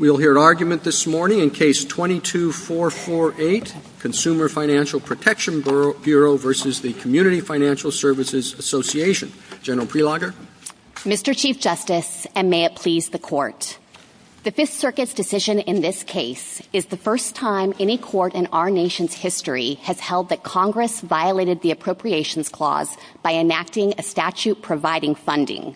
General Prelogar. Mr. Chief Justice, and may it please the Court, the Fifth Circuit's decision in this case is the first time any Court in our nation's history has held that Congress violated the Appropriations Clause by enacting a statute providing funding.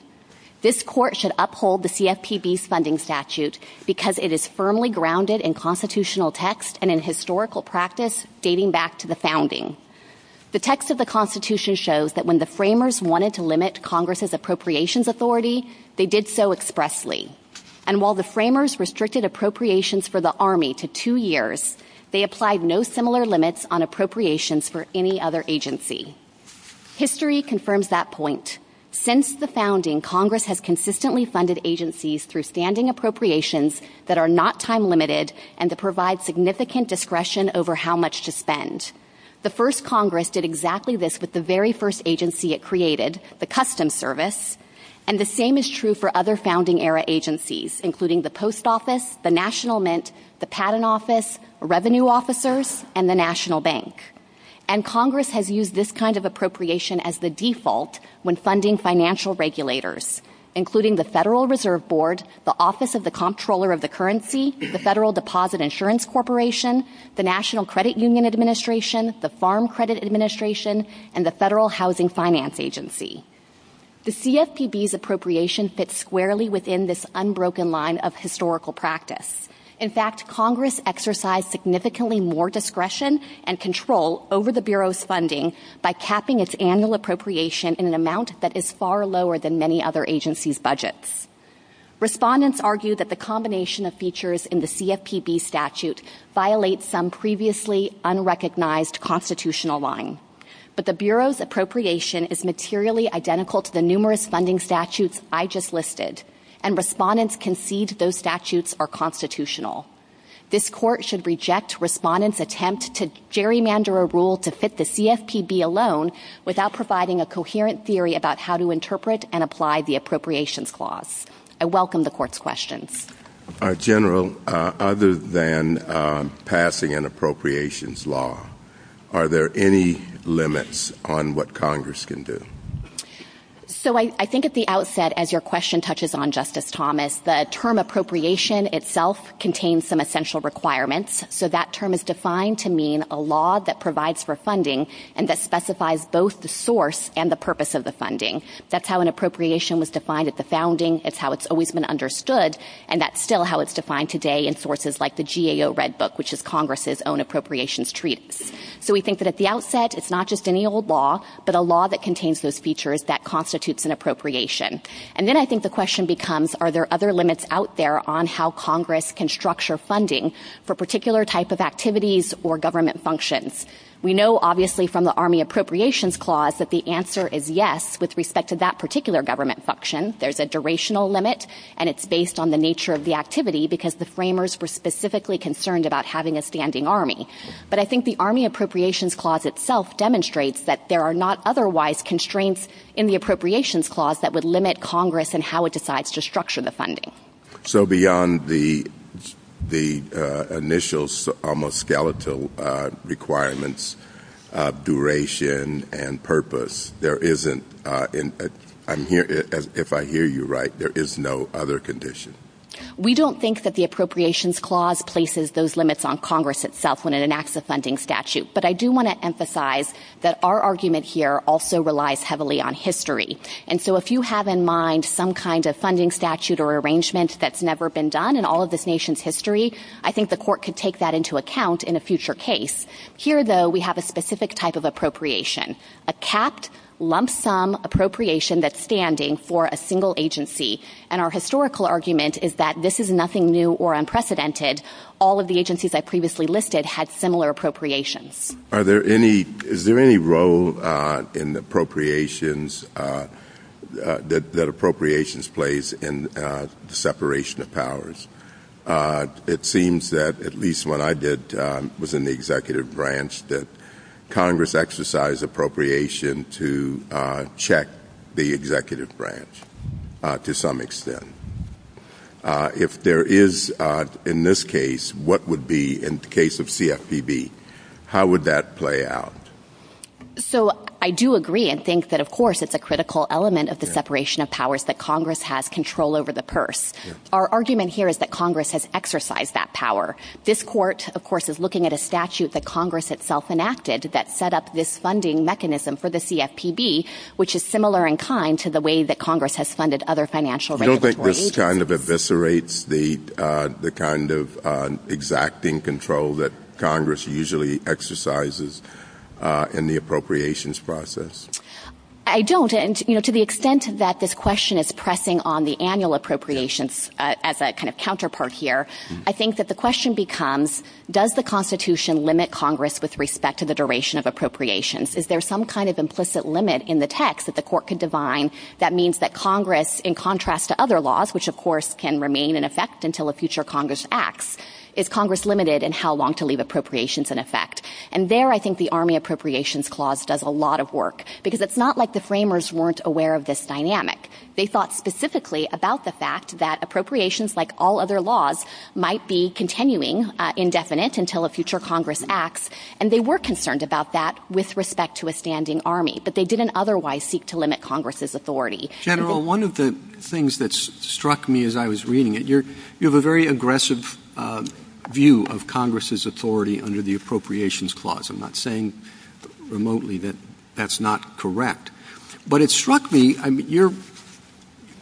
This Court should uphold the CFPB's funding statute because it is the first time in our nation's history that Congress has violated the appropriations clause by enacting a statute providing funding. Because it is firmly grounded in constitutional text and in historical practice dating back to the founding. The text of the Constitution shows that when the framers wanted to limit Congress's appropriations authority, they did so expressly. And while the framers restricted appropriations for the Army to two years, they applied no similar limits on appropriations for any other agency. History confirms that point. Since the founding, Congress has consistently funded agencies through standing appropriations that are not time-limited and that provide significant discretion over how much to spend. The first Congress did exactly this with the very first agency it created, the Customs Service. And the same is true for other founding-era agencies, including the Post Office, the National Mint, the Patent Office, Revenue Officers, and the National Bank. And Congress has used this kind of appropriation as the default when funding financial regulators, including the Federal Reserve Board, the Office of the Comptroller of the Currency, the Federal Deposit Insurance Corporation, the National Credit Union Administration, the Farm Credit Administration, and the Federal Housing Finance Agency. The CFPB's appropriations fit squarely within this unbroken line of historical practice. In fact, Congress exercised significantly more discretion and control over the Bureau's funding by capping its annual appropriation in an amount that is far lower than many other agencies' budgets. Respondents argue that the combination of features in the CFPB statute violates some previously unrecognized constitutional line. But the Bureau's appropriation is materially identical to the numerous funding statutes I just listed, and respondents concede those statutes are constitutional. This Court should reject respondents' attempt to gerrymander a rule to fit the CFPB alone without providing a coherent theory about how to interpret and apply the appropriations clause. I welcome the Court's questions. General, other than passing an appropriations law, are there any limits on what Congress can do? So I think at the outset, as your question touches on, Justice Thomas, the term appropriation itself contains some essential requirements. So that term is defined to mean a law that provides for funding and that specifies both the source and the purpose of the funding. That's how an appropriation was defined at the founding, it's how it's always been understood, and that's still how it's defined today in sources like the GAO Red Book, which is Congress' own appropriations treaty. So we think that at the outset, it's not just any old law, but a law that contains those features that constitutes an appropriation. And then I think the question becomes, are there other limits out there on how Congress can structure funding for particular type of activities or government functions? We know, obviously, from the Army Appropriations Clause that the answer is yes with respect to that particular government function. There's a durational limit, and it's based on the nature of the activity because the framers were specifically concerned about having a standing army. But I think the Army Appropriations Clause itself demonstrates that there are not otherwise constraints in the Appropriations Clause that would limit Congress and how it decides to structure the funding. So beyond the initial almost skeletal requirements, duration, and purpose, there isn't, if I hear you right, there is no other condition? We don't think that the Appropriations Clause places those limits on Congress itself when it enacts a funding statute. But I do want to emphasize that our argument here also relies heavily on history. And so if you have in mind some kind of funding statute or arrangement that's never been done in all of this nation's history, I think the court could take that into account in a future case. Here, though, we have a specific type of appropriation, a capped, lump sum appropriation that's standing for a single agency. And our historical argument is that this is nothing new or unprecedented. All of the agencies I previously listed had similar appropriations. Is there any role that appropriations plays in the separation of powers? It seems that, at least when I was in the executive branch, that Congress exercised appropriation to check the executive branch to some extent. If there is, in this case, what would be in the case of CFPB, how would that play out? So I do agree and think that, of course, it's a critical element of the separation of powers that Congress has control over the purse. Our argument here is that Congress has exercised that power. This court, of course, is looking at a statute that Congress itself enacted that set up this funding mechanism for the CFPB, which is similar in kind to the way that Congress has funded other financial regulatory agencies. You don't think this kind of eviscerates the kind of exacting control that Congress usually exercises in the appropriations process? I don't. And, you know, to the extent that this question is pressing on the annual appropriations as a kind of counterpart here, I think that the question becomes, does the Constitution limit Congress with respect to the duration of appropriations? Is there some kind of implicit limit in the text that the court can define that means that Congress, in contrast to other laws, which, of course, can remain in effect until a future Congress acts, is Congress limited in how long to leave appropriations in effect? And there I think the Army Appropriations Clause does a lot of work, because it's not like the framers weren't aware of this dynamic. They thought specifically about the fact that appropriations, like all other laws, might be continuing indefinite until a future Congress acts, and they were concerned about that with respect to a standing Army, but they didn't otherwise seek to limit Congress's authority. General, one of the things that struck me as I was reading it, you have a very aggressive view of Congress's authority under the Appropriations Clause. I'm not saying remotely that that's not correct, but it struck me, you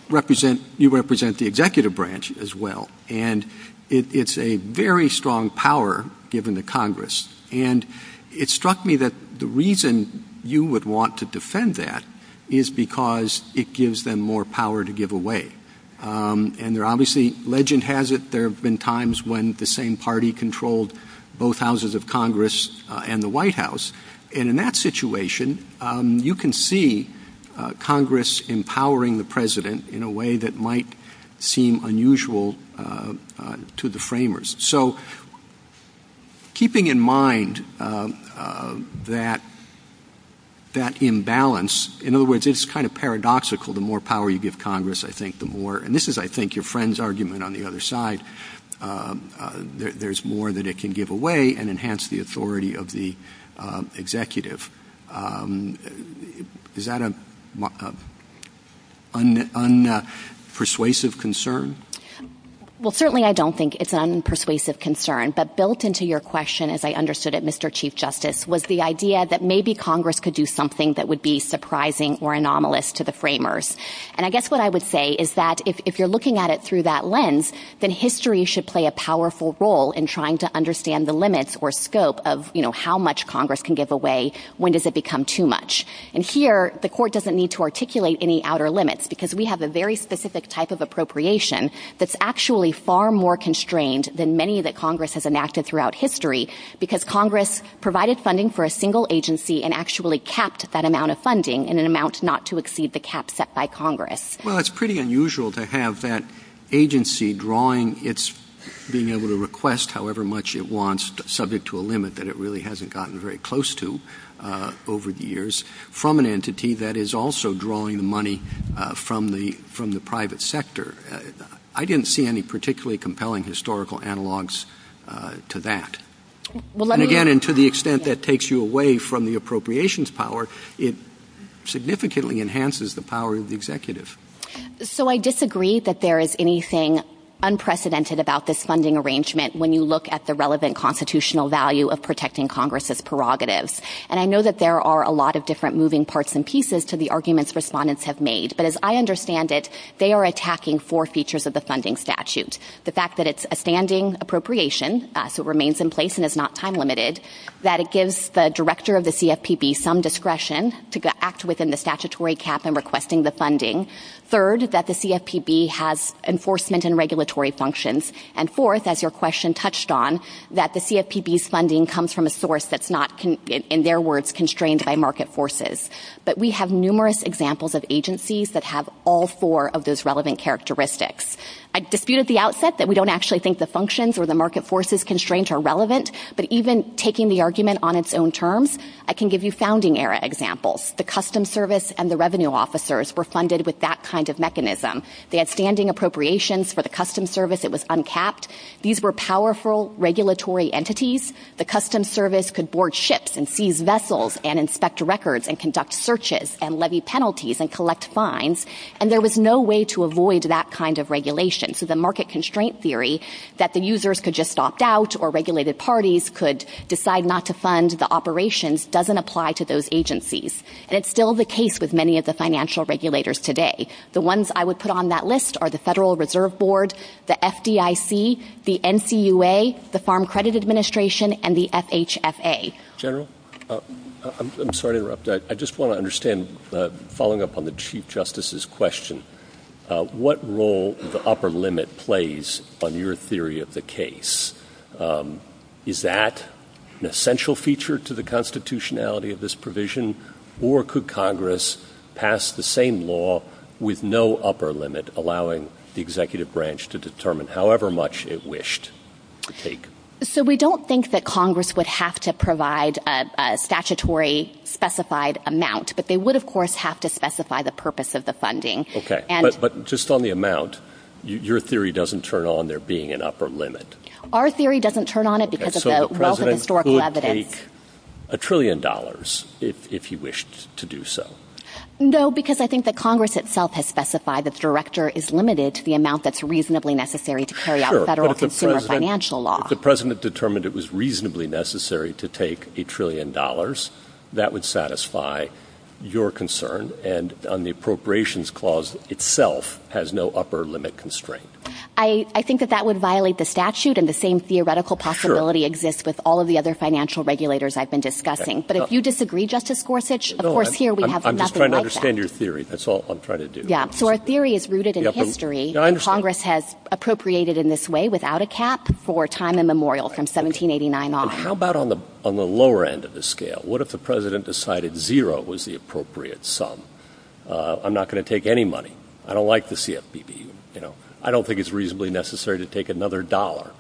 represent the executive branch as well, and it's a very strong power given to Congress, and it struck me that the reason you would want to defend that is because it gives them more power to give away. And obviously, legend has it, there have been times when the same party controlled both houses of Congress and the White House, and in that situation, you can see Congress empowering the President in a way that might seem unusual to the framers. So, keeping in mind that imbalance, in other words, it's kind of paradoxical, the more power you give Congress, I think the more, and this is, I think, your friend's argument on the other side, there's more that it can give away and enhance the authority of the executive. Is that an unpersuasive concern? Well, certainly I don't think it's an unpersuasive concern, but built into your question, as I understood it, Mr. Chief Justice, was the idea that maybe Congress could do something that would be surprising or anomalous to the framers. And I guess what I would say is that if you're looking at it through that lens, then history should play a powerful role in trying to understand the limits or scope of how much Congress can give away, when does it become too much. And here, the Court doesn't need to articulate any outer limits, because we have a very specific type of appropriation that's actually far more constrained than many that Congress has enacted throughout history, because Congress provided funding for a single agency and actually capped that amount of funding in an amount not to exceed the cap set by Congress. Well, it's pretty unusual to have that agency drawing its being able to request however much it wants, subject to a limit that it really hasn't gotten very close to over the years, from an entity that is also drawing the money from the private sector. I didn't see any particularly compelling historical analogs to that. And again, to the extent that takes you away from the appropriations power, it significantly enhances the power of the executive. So I disagree that there is anything unprecedented about this funding arrangement when you look at the relevant constitutional value of protecting Congress's prerogatives. And I know that there are a lot of different moving parts and pieces to the arguments respondents have made, but as I understand it, they are attacking four features of the funding statute. The fact that it's a standing appropriation, so it remains in place and is not time-limited. That it gives the director of the CFPB some discretion to act within the statutory cap in requesting the funding. Third, that the CFPB has enforcement and regulatory functions. And fourth, as your question touched on, that the CFPB's funding comes from a source that's not, in their words, constrained by market forces. But we have numerous examples of agencies that have all four of those relevant characteristics. I disputed at the outset that we don't actually think the functions or the market forces constrained are relevant. But even taking the argument on its own terms, I can give you founding era examples. The Customs Service and the Revenue Officers were funded with that kind of mechanism. They had standing appropriations for the Customs Service. It was uncapped. These were powerful regulatory entities. The Customs Service could board ships and seize vessels and inspect records and conduct searches and levy penalties and collect fines. And there was no way to avoid that kind of regulation. So the market constraint theory that the users could just opt out or regulated parties could decide not to fund the operations doesn't apply to those agencies. And it's still the case with many of the financial regulators today. The ones I would put on that list are the Federal Reserve Board, the FDIC, the NCUA, the Farm Credit Administration, and the FHFA. General? I'm sorry to interrupt. I just want to understand, following up on the Chief Justice's question, what role does the upper limit play on your theory of the case? Is that an essential feature to the constitutionality of this provision, or could Congress pass the same law with no upper limit, allowing the executive branch to determine however much it wished to take? So we don't think that Congress would have to provide a statutory specified amount, but they would, of course, have to specify the purpose of the funding. Okay, but just on the amount, your theory doesn't turn on there being an upper limit. Our theory doesn't turn on it because it's a wealth of historical evidence. So the President could take a trillion dollars if he wished to do so. No, because I think that Congress itself has specified that the director is limited to the amount that's reasonably necessary to carry out a federal consumer financial law. Sure, but if the President determined it was reasonably necessary to take a trillion dollars, that would satisfy your concern, and the Appropriations Clause itself has no upper limit constraint. I think that that would violate the statute, and the same theoretical possibility exists with all of the other financial regulators I've been discussing. But if you disagree, Justice Gorsuch, of course, here we have nothing like that. I'm just trying to understand your theory. That's all I'm trying to do. Yeah, so our theory is rooted in history, and Congress has appropriated in this way without a cap for time immemorial from 1789 on. How about on the lower end of the scale? What if the President decided zero was the appropriate sum? I'm not going to take any money. I don't like the CFPB. I don't think it's reasonably necessary to take another dollar.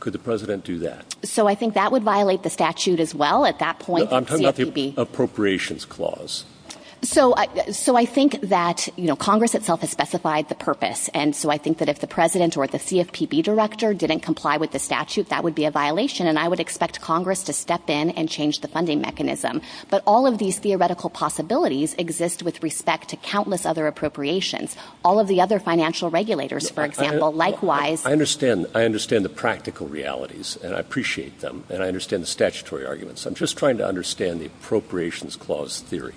Could the President do that? So I think that would violate the statute as well at that point. I'm talking about the Appropriations Clause. So I think that Congress itself has specified the purpose, and so I think that if the President or the CFPB Director didn't comply with the statute, that would be a violation, and I would expect Congress to step in and change the funding mechanism. But all of these theoretical possibilities exist with respect to countless other appropriations. All of the other financial regulators, for example, likewise. I understand the practical realities, and I appreciate them, and I understand the statutory arguments. I'm just trying to understand the Appropriations Clause theory.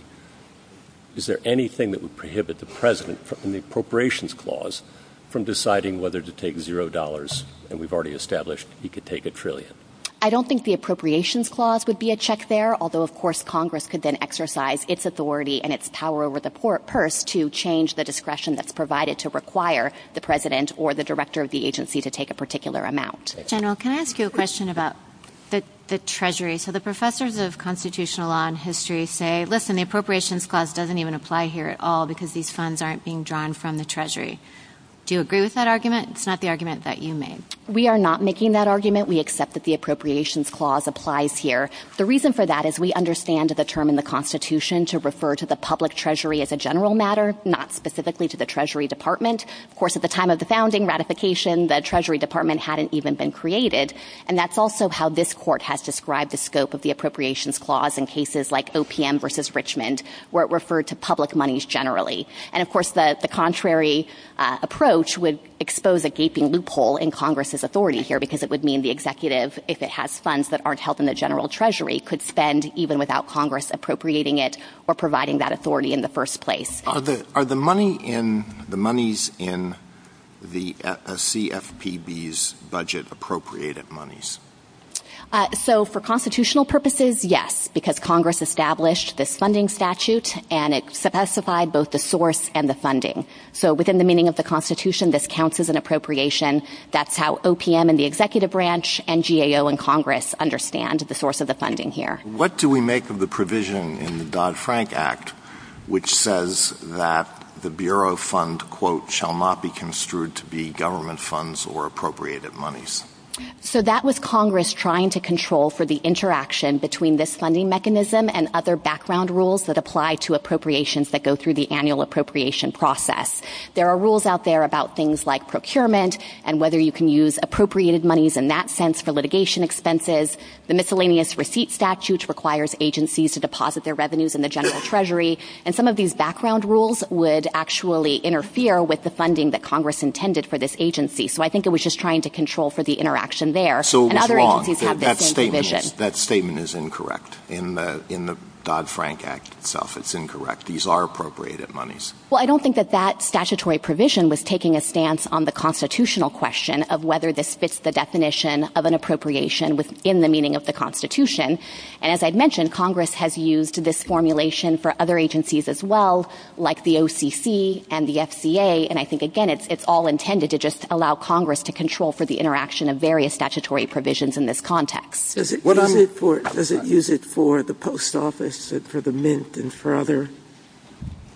Is there anything that would prohibit the President from the Appropriations Clause from deciding whether to take zero dollars, and we've already established he could take a trillion? I don't think the Appropriations Clause would be a check there, although of course Congress could then exercise its authority and its power over the purse to change the discretion that's provided to require the President or the Director of the agency to take a particular amount. General, can I ask you a question about the Treasury? So the professors of constitutional law and history say, listen, the Appropriations Clause doesn't even apply here at all because these funds aren't being drawn from the Treasury. Do you agree with that argument? It's not the argument that you made. We are not making that argument. We accept that the Appropriations Clause applies here. The reason for that is we understand the term in the Constitution to refer to the public treasury as a general matter, not specifically to the Treasury Department. Of course at the time of the founding ratification, the Treasury Department hadn't even been created, and that's also how this court has described the scope of the Appropriations Clause in cases like OPM versus Richmond, where it referred to public monies generally. And of course the contrary approach would expose a gaping loophole in Congress's authority here because it would mean the executive, if it has funds that aren't held in the general treasury, could spend even without Congress appropriating it or providing that authority in the first place. Are the monies in the CFPB's budget appropriated monies? So for constitutional purposes, yes, because Congress established the funding statute and it specified both the source and the funding. So within the meaning of the Constitution, this counts as an appropriation. That's how OPM and the executive branch and GAO and Congress understand the source of the funding here. What do we make of the provision in the Dodd-Frank Act which says that the Bureau of Funds, quote, shall not be construed to be government funds or appropriated monies? So that was Congress trying to control for the interaction between this funding mechanism and other background rules that apply to appropriations that go through the annual appropriation process. There are rules out there about things like procurement and whether you can use appropriated monies in that sense for litigation expenses. The miscellaneous receipt statute requires agencies to deposit their revenues in the general treasury. And some of these background rules would actually interfere with the funding that Congress intended for this agency. So I think it was just trying to control for the interaction there. So it was wrong. That statement is incorrect. In the Dodd-Frank Act itself, it's incorrect. These are appropriated monies. Well, I don't think that that statutory provision was taking a stance on the constitutional question of whether this fits the definition of an appropriation within the meaning of the Constitution. And as I mentioned, Congress has used this formulation for other agencies as well like the OCC and the FCA. And I think, again, it's all intended to just allow Congress to control for the interaction of various statutory provisions in this context. Does it use it for the post office and for the Mint and for other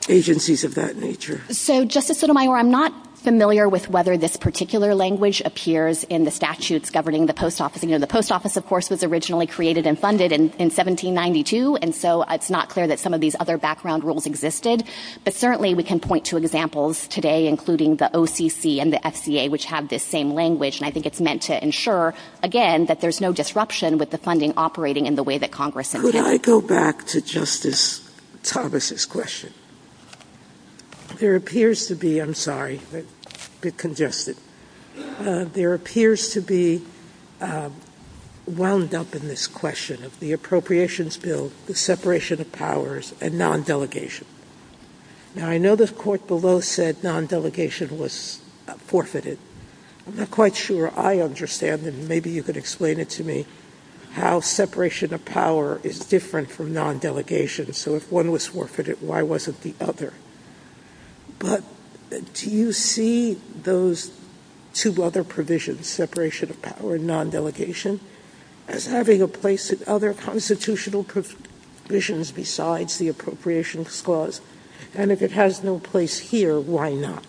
agencies of that nature? So, Justice Sotomayor, I'm not familiar with whether this particular language appears in the statutes governing the post office. You know, the post office, of course, was originally created and funded in 1792. And so it's not clear that some of these other background rules existed. But certainly we can point to examples today, including the OCC and the FCA, which have this same language. And I think it's meant to ensure, again, that there's no disruption with the funding operating in the way that Congress has. Could I go back to Justice Thomas's question? There appears to be, I'm sorry, I'm a bit congested. There appears to be wound up in this question of the Appropriations Bill, the separation of powers, and non-delegation. Now, I know the court below said non-delegation was forfeited. I'm not quite sure I understand, and maybe you could explain it to me, how separation of power is different from non-delegation. So if one was forfeited, why wasn't the other? But do you see those two other provisions, separation of power and non-delegation, as having a place in other constitutional provisions besides the Appropriations Clause? And if it has no place here, why not?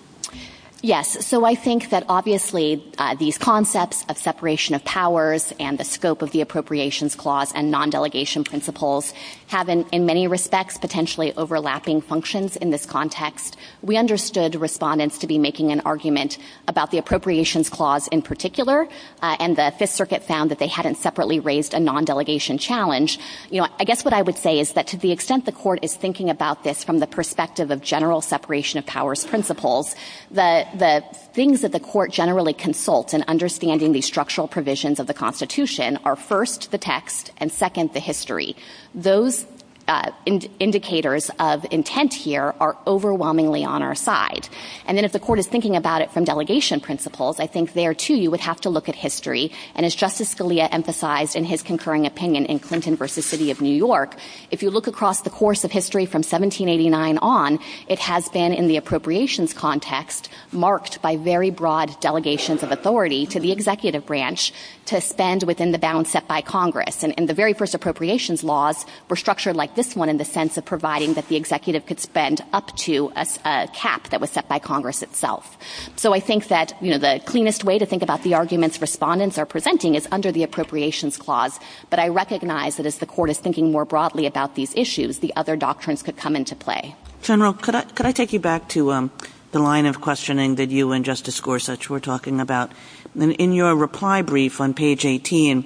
Yes. So I think that, obviously, these concepts of separation of powers and the scope of the Appropriations Clause and non-delegation principles have, in many respects, potentially overlapping functions in this context. We understood respondents to be making an argument about the Appropriations Clause in particular, and the Fifth Circuit found that they hadn't separately raised a non-delegation challenge. You know, I guess what I would say is that to the extent the court is thinking about this from the perspective of general separation of powers principles, the things that the court generally consults in understanding these structural provisions of the Constitution are, first, the text, and, second, the history. Those indicators of intent here are overwhelmingly on our side. And then if the court is thinking about it from delegation principles, I think there, too, you would have to look at history. And as Justice Scalia emphasized in his concurring opinion in Clinton v. City of New York, if you look across the course of history from 1789 on, it has been in the appropriations context marked by very broad delegations of authority to the executive branch to spend within the bounds set by Congress. And the very first appropriations laws were structured like this one in the sense of providing that the executive could spend up to a cap that was set by Congress itself. So I think that, you know, the cleanest way to think about the arguments respondents are presenting is under the Appropriations Clause. But I recognize that as the court is thinking more broadly about these issues, the other doctrines could come into play. General, could I take you back to the line of questioning that you and Justice Gorsuch were talking about? In your reply brief on page 18,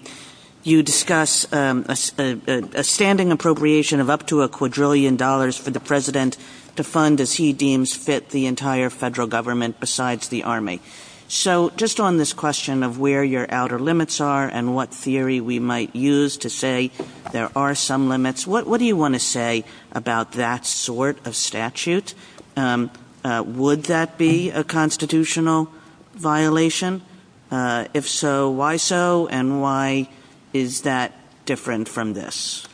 you discuss a standing appropriation of up to a quadrillion dollars for the president to fund as he deems fit the entire federal government besides the Army. So just on this question of where your outer limits are and what theory we might use to say there are some limits, what do you want to say about that sort of statute? Would that be a constitutional violation? If so, why so, and why is that different from this?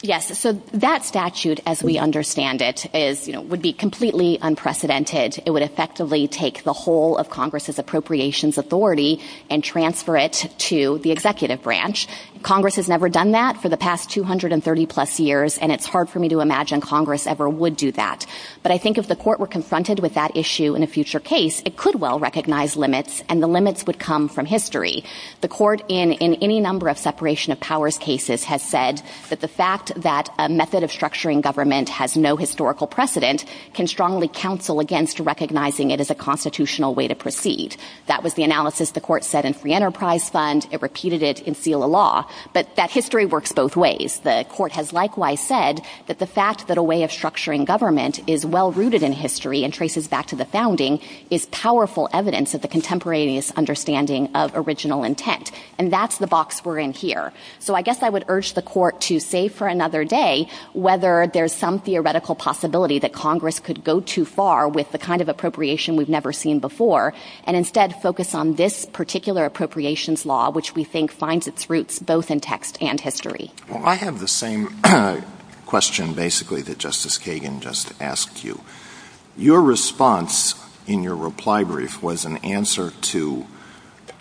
Yes, so that statute, as we understand it, would be completely unprecedented. It would effectively take the whole of Congress's appropriations authority and transfer it to the executive branch. Congress has never done that for the past 230 plus years, and it's hard for me to imagine Congress ever would do that. But I think if the court were confronted with that issue in a future case, it could well recognize limits, and the limits would come from history. The court in any number of separation of powers cases has said that the fact that a method of structuring government has no historical precedent can strongly counsel against recognizing it as a constitutional way to proceed. That was the analysis the court said in Free Enterprise Fund. It repeated it in FILA law. But that history works both ways. The court has likewise said that the fact that a way of structuring government is well rooted in history and traces back to the founding is powerful evidence of the contemporaneous understanding of original intent. And that's the box we're in here. So I guess I would urge the court to save for another day whether there's some theoretical possibility that Congress could go too far with the kind of appropriation we've never seen before, and instead focus on this particular appropriations law, which we think finds its roots both in text and history. Well, I have the same question basically that Justice Kagan just asked you. Your response in your reply brief was an answer to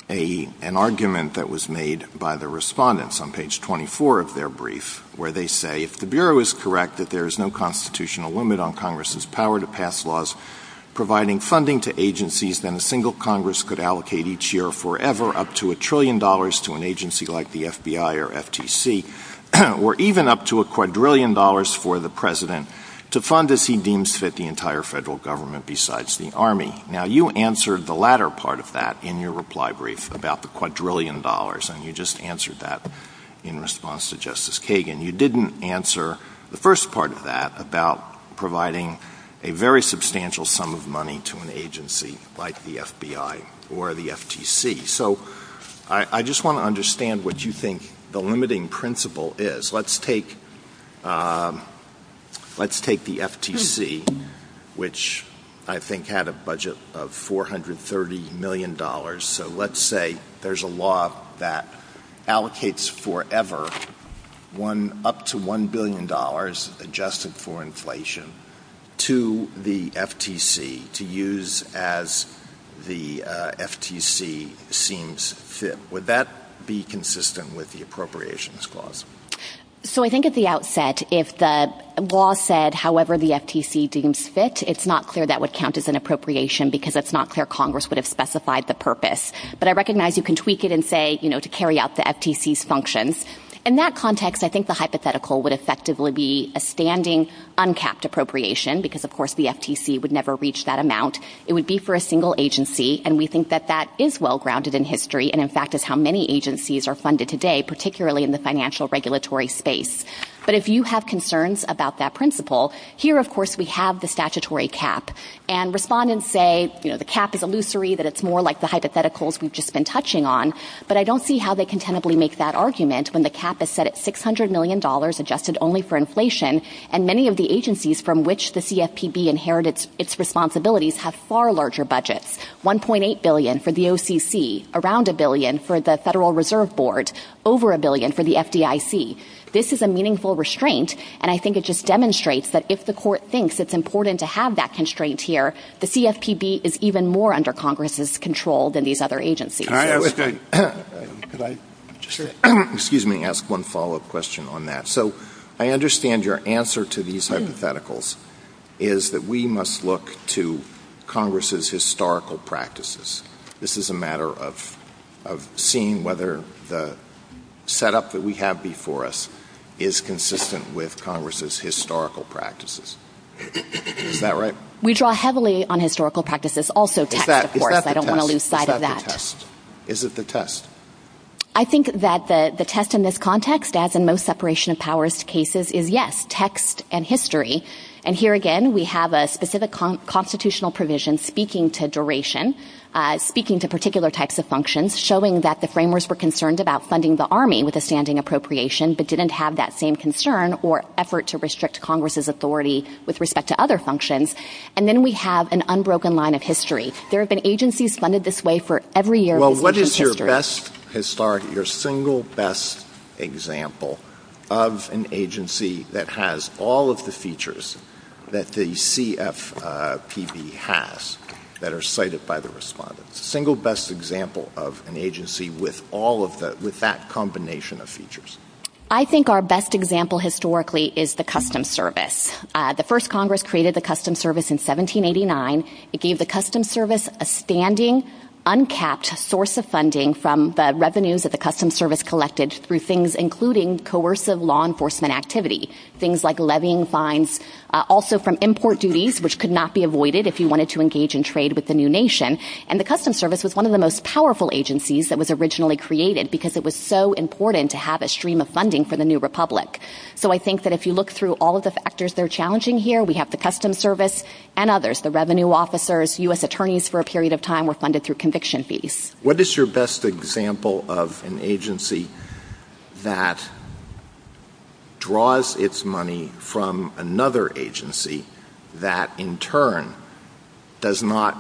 an argument that was made by the respondents on page 24 of their brief where they say, If the Bureau is correct that there is no constitutional limit on Congress's power to pass laws providing funding to agencies, then a single Congress could allocate each year forever up to a trillion dollars to an agency like the FBI or FTC, or even up to a quadrillion dollars for the President to fund as he deems fit the entire federal government besides the Army. Now you answered the latter part of that in your reply brief about the quadrillion dollars, and you just answered that in response to Justice Kagan. You didn't answer the first part of that about providing a very substantial sum of money to an agency like the FBI or the FTC. I just want to understand what you think the limiting principle is. Let's take the FTC, which I think had a budget of $430 million, so let's say there's a law that allocates forever up to $1 billion adjusted for inflation to the FTC to use as the FTC seems fit. Would that be consistent with the appropriations clause? So I think at the outset, if the law said however the FTC deems fit, it's not clear that would count as an appropriation because it's not clear Congress would have specified the purpose. But I recognize you can tweak it and say, you know, to carry out the FTC's functions. In that context, I think the hypothetical would effectively be a standing uncapped appropriation because, of course, the FTC would never reach that amount. It would be for a single agency, and we think that that is well-grounded in history and in fact is how many agencies are funded today, particularly in the financial regulatory space. But if you have concerns about that principle, here, of course, we have the statutory cap. And respondents say, you know, the cap is illusory, that it's more like the hypotheticals we've just been touching on. But I don't see how they can tentatively make that argument when the cap is set at $600 million adjusted only for inflation and many of the agencies from which the CFPB inherited its responsibilities have far larger budgets, $1.8 billion for the OCC, around $1 billion for the Federal Reserve Board, over $1 billion for the FDIC. This is a meaningful restraint, and I think it just demonstrates that if the court thinks it's important to have that constraint here, the CFPB is even more under Congress's control than these other agencies. Excuse me. I'll ask one follow-up question on that. So I understand your answer to these hypotheticals is that we must look to Congress's historical practices. This is a matter of seeing whether the setup that we have before us is consistent with Congress's historical practices. Is that right? We draw heavily on historical practices, also text, of course. I don't want to lose sight of that. Is that the test? Is it the test? I think that the test in this context, as in most separation of powers cases, is yes, text and history. And here again, we have a specific constitutional provision speaking to duration, speaking to particular types of functions, showing that the framers were concerned about funding the Army with a standing appropriation but didn't have that same concern or effort to restrict Congress's authority with respect to other functions. And then we have an unbroken line of history. There have been agencies funded this way for every year. Well, what is your single best example of an agency that has all of the features that the CFPB has that are cited by the respondents? What is your single best example of an agency with that combination of features? I think our best example historically is the Customs Service. The first Congress created the Customs Service in 1789. It gave the Customs Service a standing, uncapped source of funding from the revenues that the Customs Service collected through things including coercive law enforcement activity, things like levying fines, also from import duties, which could not be avoided if you wanted to engage in trade with the new nation. And the Customs Service was one of the most powerful agencies that was originally created because it was so important to have a stream of funding for the new republic. So I think that if you look through all of the factors that are challenging here, we have the Customs Service and others, the revenue officers, U.S. attorneys for a period of time were funded through conviction fees. What is your best example of an agency that draws its money from another agency that in turn does not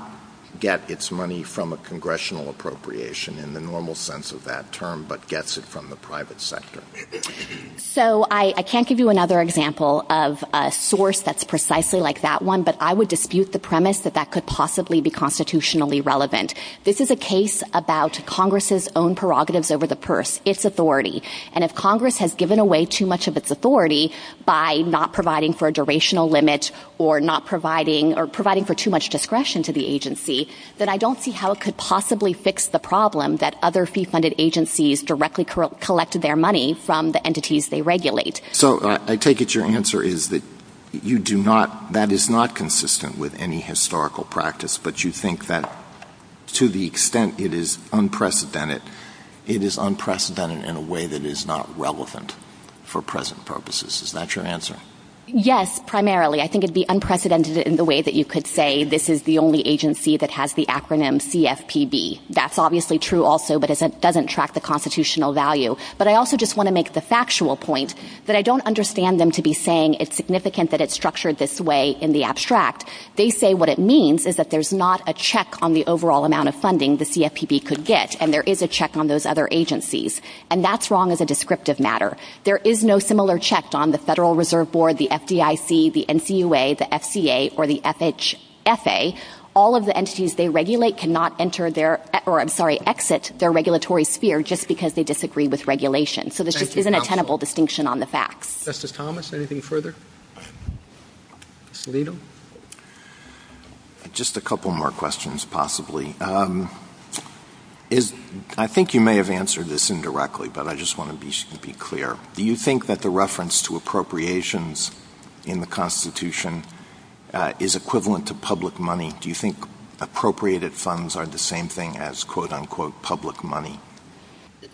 get its money from a congressional appropriation in the normal sense of that term but gets it from the private sector? So I can't give you another example of a source that's precisely like that one, but I would dispute the premise that that could possibly be constitutionally relevant. This is a case about Congress's own prerogatives over the purse, its authority. And if Congress has given away too much of its authority by not providing for a durational limit or not providing or providing for too much discretion to the agency, then I don't see how it could possibly fix the problem that other fee-funded agencies directly collected their money from the entities they regulate. So I take it your answer is that you do not, that is not consistent with any historical practice, but you think that to the extent it is unprecedented, it is unprecedented in a way that is not relevant for present purposes. Is that your answer? Yes, primarily. I think it would be unprecedented in the way that you could say this is the only agency that has the acronym CFPB. That's obviously true also, but it doesn't track the constitutional value. But I also just want to make the factual point that I don't understand them to be saying it's significant that it's structured this way in the abstract. They say what it means is that there's not a check on the overall amount of funding the CFPB could get, and there is a check on those other agencies. And that's wrong as a descriptive matter. There is no similar check on the Federal Reserve Board, the FDIC, the NCUA, the FCA, or the FHA. All of the entities they regulate cannot enter their, or I'm sorry, exit their regulatory sphere just because they disagree with regulation. So there's an untenable distinction on the facts. Justice Thomas, anything further? Mr. Liddle? Just a couple more questions, possibly. I think you may have answered this indirectly, but I just want to be clear. Do you think that the reference to appropriations in the Constitution is equivalent to public money? Do you think appropriated funds are the same thing as, quote, unquote, public money?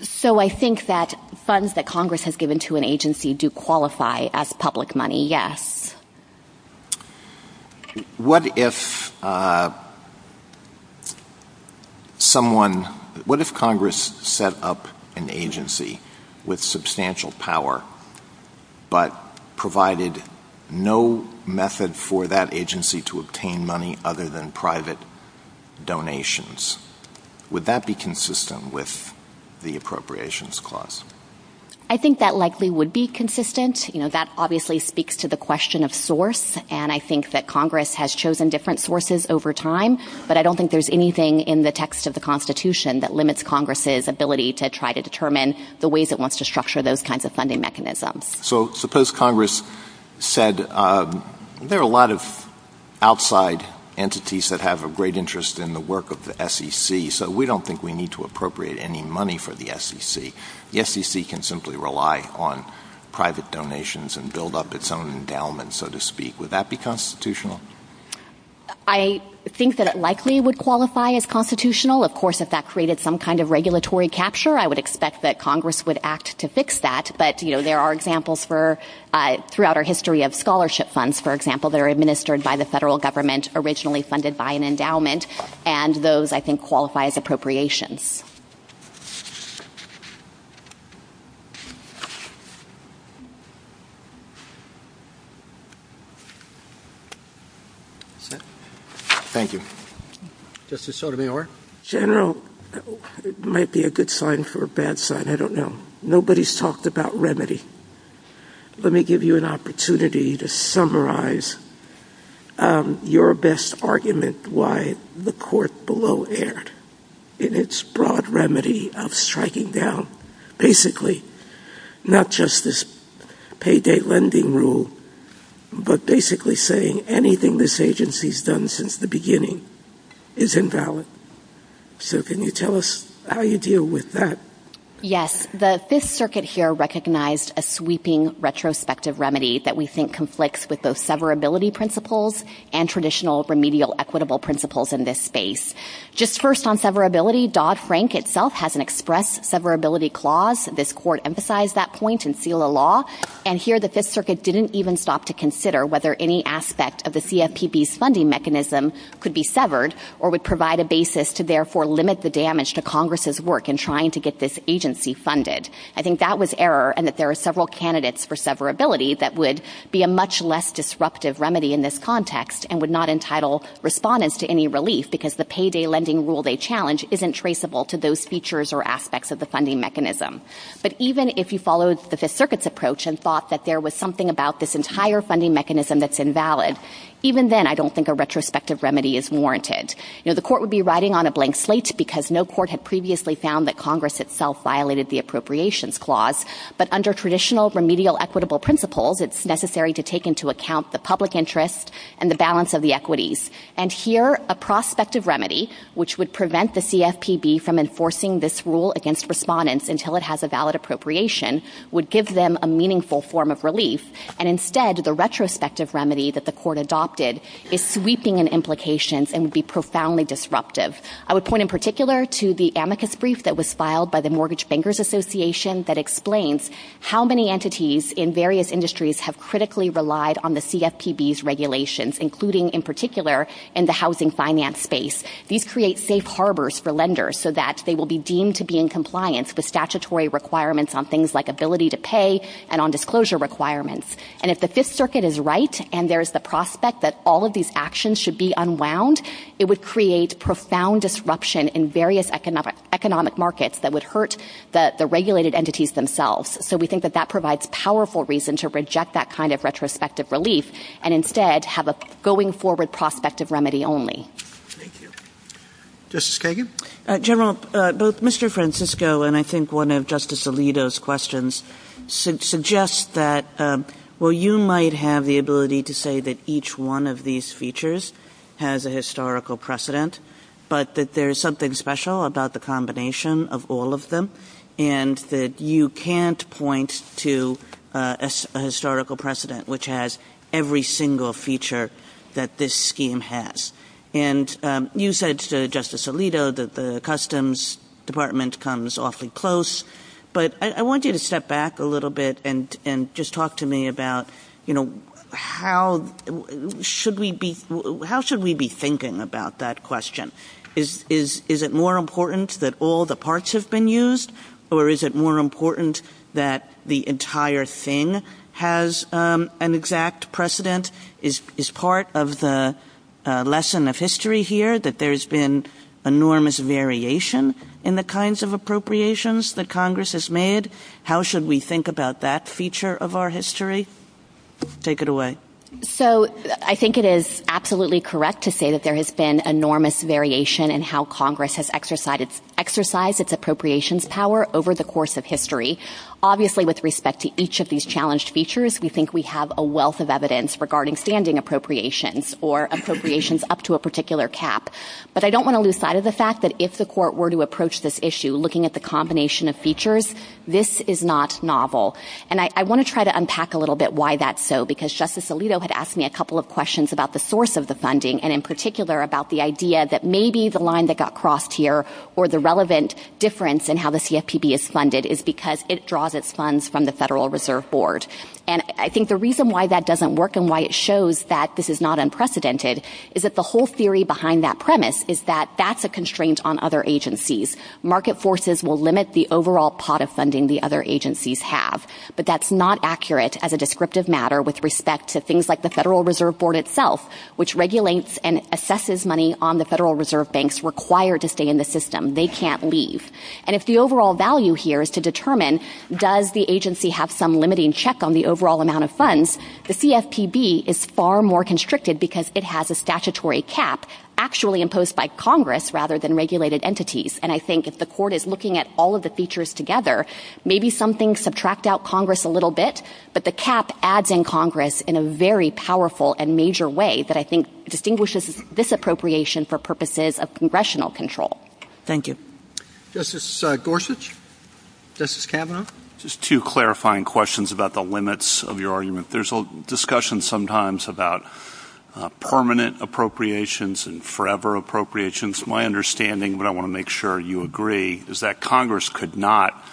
So I think that funds that Congress has given to an agency do qualify as public money, yes. What if Congress set up an agency with substantial power but provided no method for that agency to obtain money other than private donations? Would that be consistent with the appropriations clause? I think that likely would be consistent. You know, that obviously speaks to the question of source, and I think that Congress has chosen different sources over time. But I don't think there's anything in the text of the Constitution that limits Congress's ability to try to determine the ways it wants to structure those kinds of funding mechanisms. So suppose Congress said, there are a lot of outside entities that have a great interest in the work of the SEC, so we don't think we need to appropriate any money for the SEC. The SEC can simply rely on private donations and build up its own endowment, so to speak. Would that be constitutional? I think that it likely would qualify as constitutional. Of course, if that created some kind of regulatory capture, I would expect that Congress would act to fix that. But, you know, there are examples throughout our history of scholarship funds, for example, that are administered by the federal government, originally funded by an endowment, and those, I think, qualify as appropriations. Thank you. Justice Sotomayor? General, it might be a good sign for a bad sign. I don't know. Nobody's talked about remedy. Let me give you an opportunity to summarize your best argument why the court below erred in its broad remedy of striking down, basically, not just this payday lending rule, but basically saying anything this agency's done since the beginning is invalid. So can you tell us how you deal with that? Yes. The Fifth Circuit here recognized a sweeping retrospective remedy that we think conflicts with both severability principles and traditional remedial equitable principles in this space. Just first on severability, Dodd-Frank itself has an express severability clause. This court emphasized that point in SELA law. And here the Fifth Circuit didn't even stop to consider whether any aspect of the CFPB's funding mechanism could be severed or would provide a basis to therefore limit the damage to Congress's work in trying to get this agency funded. I think that was error and that there are several candidates for severability that would be a much less disruptive remedy in this context and would not entitle respondents to any relief because the payday lending rule they challenge isn't traceable to those features or aspects of the funding mechanism. But even if you followed the Fifth Circuit's approach and thought that there was something about this entire funding mechanism that's invalid, even then I don't think a retrospective remedy is warranted. The court would be riding on a blank slate because no court had previously found that Congress itself violated the appropriations clause. But under traditional remedial equitable principles, it's necessary to take into account the public interest and the balance of the equities. And here a prospective remedy, which would prevent the CFPB from enforcing this rule against respondents until it has a valid appropriation, would give them a meaningful form of relief. And instead, the retrospective remedy that the court adopted is sweeping in implications and would be profoundly disruptive. I would point in particular to the amicus brief that was filed by the Mortgage Bankers Association that explains how many entities in various industries have critically relied on the CFPB's regulations, including in particular in the housing finance space. These create safe harbors for lenders so that they will be deemed to be in compliance with statutory requirements on things like ability to pay and on disclosure requirements. And if the Fifth Circuit is right and there's the prospect that all of these actions should be unwound, it would create profound disruption in various economic markets that would hurt the regulated entities themselves. So we think that that provides powerful reason to reject that kind of retrospective relief and instead have a going-forward prospective remedy only. Thank you. Justice Kagan? General, both Mr. Francisco and I think one of Justice Alito's questions suggests that, well, you might have the ability to say that each one of these features has a historical precedent, but that there is something special about the combination of all of them and that you can't point to a historical precedent which has every single feature that this scheme has. And you said to Justice Alito that the Customs Department comes awfully close, but I want you to step back a little bit and just talk to me about, you know, how should we be thinking about that question? Is it more important that all the parts have been used, or is it more important that the entire thing has an exact precedent? Is part of the lesson of history here that there's been enormous variation in the kinds of appropriations that Congress has made? How should we think about that feature of our history? Take it away. So I think it is absolutely correct to say that there has been enormous variation in how Congress has exercised its appropriations power over the course of history. Obviously, with respect to each of these challenged features, we think we have a wealth of evidence regarding standing appropriations or appropriations up to a particular cap. But I don't want to lose sight of the fact that if the court were to approach this issue looking at the combination of features, this is not novel. And I want to try to unpack a little bit why that's so, because Justice Alito had asked me a couple of questions about the source of the funding and in particular about the idea that maybe the line that got crossed here or the relevant difference in how the CFPB is funded is because it draws its funds from the Federal Reserve Board. And I think the reason why that doesn't work and why it shows that this is not unprecedented is that the whole theory behind that premise is that that's a constraint on other agencies. Market forces will limit the overall pot of funding the other agencies have. But that's not accurate as a descriptive matter with respect to things like the Federal Reserve Board itself, which regulates and assesses money on the Federal Reserve Banks required to stay in the system. They can't leave. And if the overall value here is to determine does the agency have some limiting check on the overall amount of funds, the CFPB is far more constricted because it has a statutory cap actually imposed by Congress rather than regulated entities. And I think if the court is looking at all of the features together, maybe some things subtract out Congress a little bit, but the cap adds in Congress in a very powerful and major way that I think distinguishes this appropriation for purposes of congressional control. Thank you. Justice Gorsuch? Justice Kavanaugh? Just two clarifying questions about the limits of your argument. There's a discussion sometimes about permanent appropriations and forever appropriations. My understanding, but I want to make sure you agree, is that Congress could not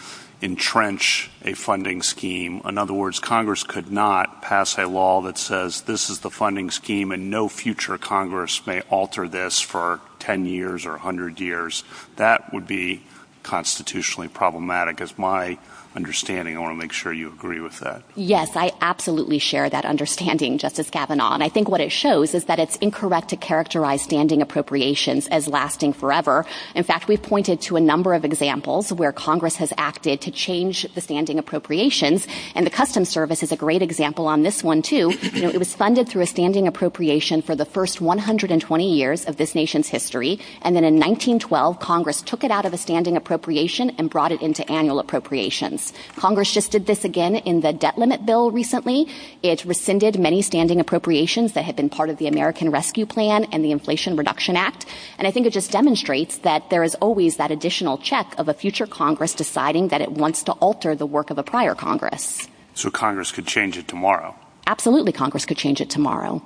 entrench a funding scheme. In other words, Congress could not pass a law that says this is the funding scheme and no future Congress may alter this for 10 years or 100 years. That would be constitutionally problematic is my understanding. I want to make sure you agree with that. Yes, I absolutely share that understanding, Justice Kavanaugh. And I think what it shows is that it's incorrect to characterize standing appropriations as lasting forever. In fact, we've pointed to a number of examples where Congress has acted to change the standing appropriations, and the Customs Service is a great example on this one too. It was funded through a standing appropriation for the first 120 years of this nation's history. And then in 1912, Congress took it out of a standing appropriation and brought it into annual appropriations. Congress just did this again in the debt limit bill recently. It rescinded many standing appropriations that had been part of the American Rescue Plan and the Inflation Reduction Act. And I think it just demonstrates that there is always that additional check of a future Congress deciding that it wants to alter the work of a prior Congress. So Congress could change it tomorrow? Absolutely, Congress could change it tomorrow.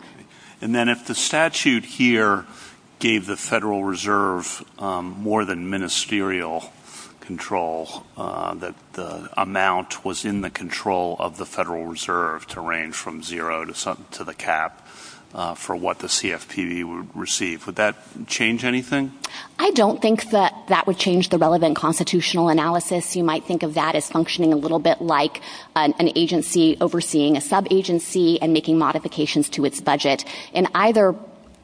And then if the statute here gave the Federal Reserve more than ministerial control, that the amount was in the control of the Federal Reserve to range from zero to the cap for what the CFPB would receive, would that change anything? I don't think that that would change the relevant constitutional analysis. You might think of that as functioning a little bit like an agency overseeing a sub-agency and making modifications to its budget. In either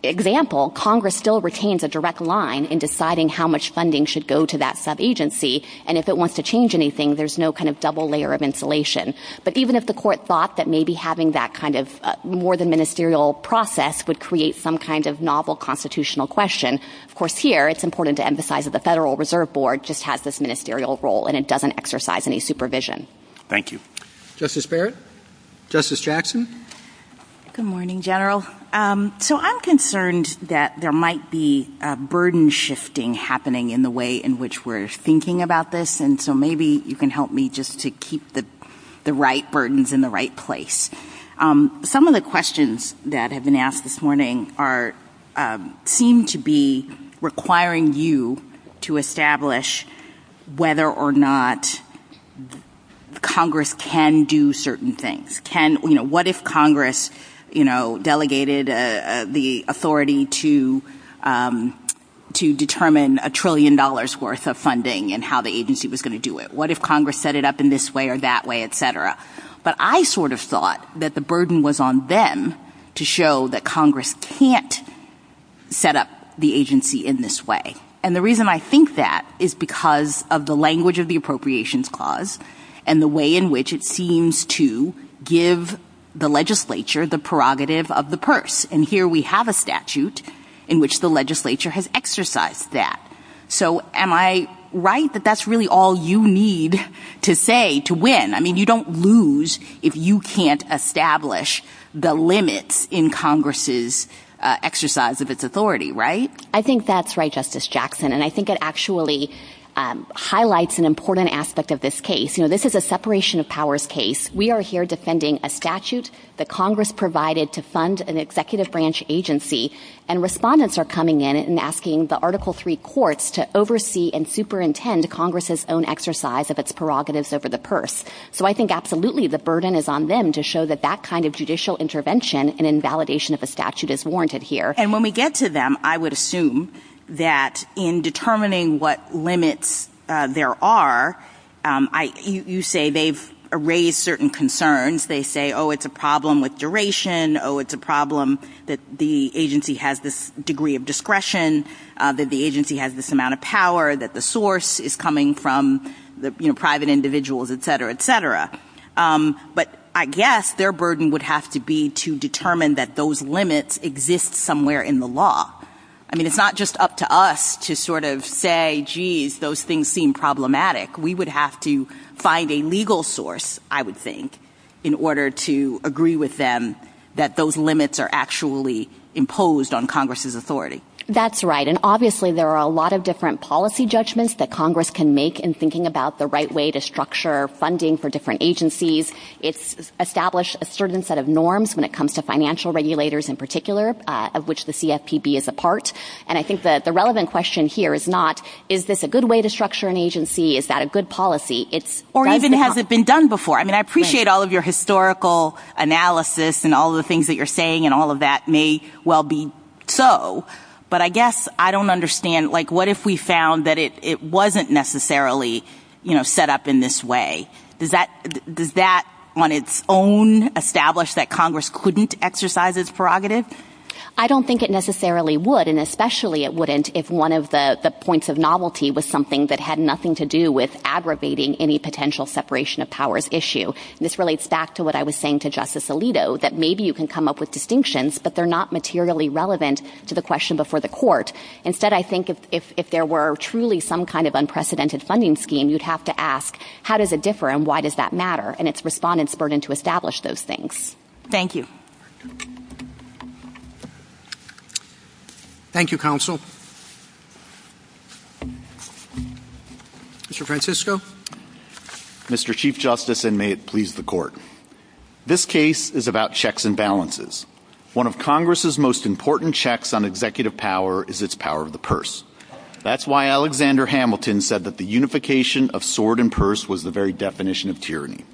example, Congress still retains a direct line in deciding how much funding should go to that sub-agency. And if it wants to change anything, there's no kind of double layer of insulation. But even if the court thought that maybe having that kind of more than ministerial process would create some kind of novel constitutional question, of course here it's important to emphasize that the Federal Reserve Board just has this ministerial role and it doesn't exercise any supervision. Thank you. Justice Barrett? Justice Jackson? Good morning, General. So I'm concerned that there might be a burden shifting happening in the way in which we're thinking about this, and so maybe you can help me just to keep the right burdens in the right place. Some of the questions that have been asked this morning seem to be requiring you to establish whether or not Congress can do certain things. What if Congress delegated the authority to determine a trillion dollars worth of funding and how the agency was going to do it? What if Congress set it up in this way or that way, et cetera? But I sort of thought that the burden was on them to show that Congress can't set up the agency in this way. And the reason I think that is because of the language of the Appropriations Clause and the way in which it seems to give the legislature the prerogative of the purse. And here we have a statute in which the legislature has exercised that. So am I right that that's really all you need to say to win? I mean, you don't lose if you can't establish the limits in Congress's exercise of its authority, right? I think that's right, Justice Jackson, and I think it actually highlights an important aspect of this case. You know, this is a separation of powers case. We are here defending a statute that Congress provided to fund an executive branch agency, and respondents are coming in and asking the Article III courts to oversee and superintend Congress's own exercise of its prerogatives over the purse. So I think absolutely the burden is on them to show that that kind of judicial intervention and invalidation of the statute is warranted here. And when we get to them, I would assume that in determining what limits there are, you say they've raised certain concerns. They say, oh, it's a problem with duration, oh, it's a problem that the agency has this degree of discretion, that the agency has this amount of power, that the source is coming from private individuals, et cetera, et cetera. But I guess their burden would have to be to determine that those limits exist somewhere in the law. I mean, it's not just up to us to sort of say, geez, those things seem problematic. We would have to find a legal source, I would think, in order to agree with them that those limits are actually imposed on Congress's authority. That's right, and obviously there are a lot of different policy judgments that Congress can make in thinking about the right way to structure funding for different agencies. It's established a certain set of norms when it comes to financial regulators in particular, of which the CFPB is a part. And I think the relevant question here is not, is this a good way to structure an agency? Is that a good policy? Or even has it been done before? I mean, I appreciate all of your historical analysis and all of the things that you're saying and all of that may well be so, but I guess I don't understand, like, what if we found that it wasn't necessarily set up in this way? Does that on its own establish that Congress couldn't exercise its prerogative? I don't think it necessarily would, and especially it wouldn't if one of the points of novelty was something that had nothing to do with aggravating any potential separation of powers issue. And this relates back to what I was saying to Justice Alito, that maybe you can come up with distinctions, but they're not materially relevant to the question before the court. Instead, I think if there were truly some kind of unprecedented funding scheme, you'd have to ask how does it differ and why does that matter and its respondents' burden to establish those things. Thank you. Thank you, Counsel. Mr. Francisco? Mr. Chief Justice, and may it please the Court. This case is about checks and balances. One of Congress's most important checks on executive power is its power of the purse. That's why Alexander Hamilton said that the unification of sword and purse was the very definition of tyranny.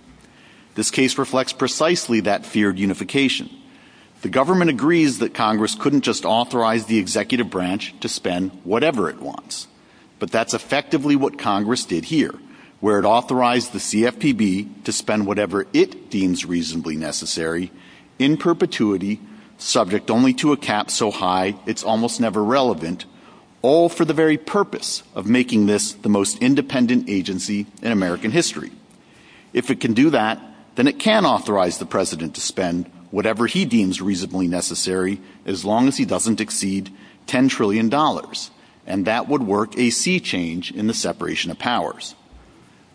This case reflects precisely that fear of unification. The government agrees that Congress couldn't just authorize the executive branch to spend whatever it wants, but that's effectively what Congress did here. Where it authorized the CFPB to spend whatever it deems reasonably necessary in perpetuity, subject only to a cap so high it's almost never relevant, all for the very purpose of making this the most independent agency in American history. If it can do that, then it can authorize the President to spend whatever he deems reasonably necessary as long as he doesn't exceed $10 trillion. And that would work a sea change in the separation of powers.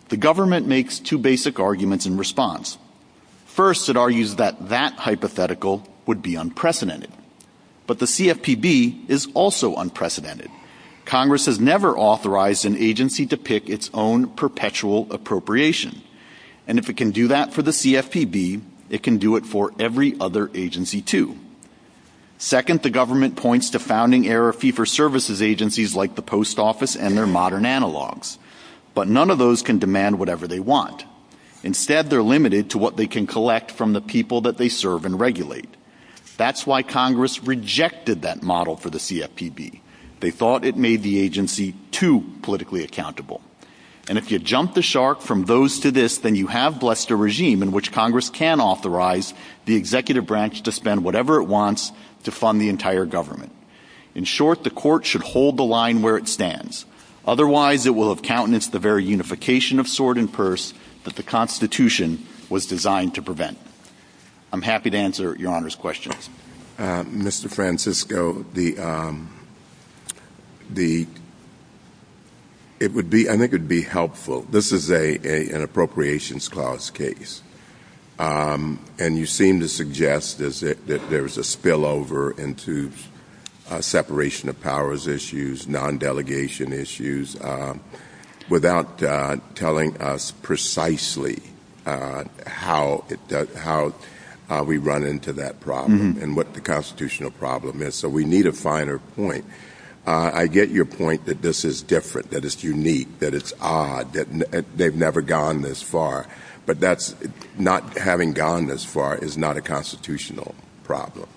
The government makes two basic arguments in response. First, it argues that that hypothetical would be unprecedented. But the CFPB is also unprecedented. Congress has never authorized an agency to pick its own perpetual appropriation. And if it can do that for the CFPB, it can do it for every other agency, too. Second, the government points to founding-era fee-for-services agencies like the Post Office and their modern analogs. But none of those can demand whatever they want. Instead, they're limited to what they can collect from the people that they serve and regulate. That's why Congress rejected that model for the CFPB. They thought it made the agency too politically accountable. And if you jump the shark from those to this, then you have blessed a regime in which Congress can authorize the executive branch to spend whatever it wants to fund the entire government. In short, the court should hold the line where it stands. Otherwise, it will have countenanced the very unification of sword and purse that the Constitution was designed to prevent. I'm happy to answer your Honor's questions. Mr. Francisco, I think it would be helpful. This is an appropriations clause case. And you seem to suggest that there's a spillover into separation of powers issues, non-delegation issues, without telling us precisely how we run into that problem and what the constitutional problem is. So we need a finer point. I get your point that this is different, that it's unique, that it's odd, that they've never gone this far. But not having gone this far is not a constitutional problem.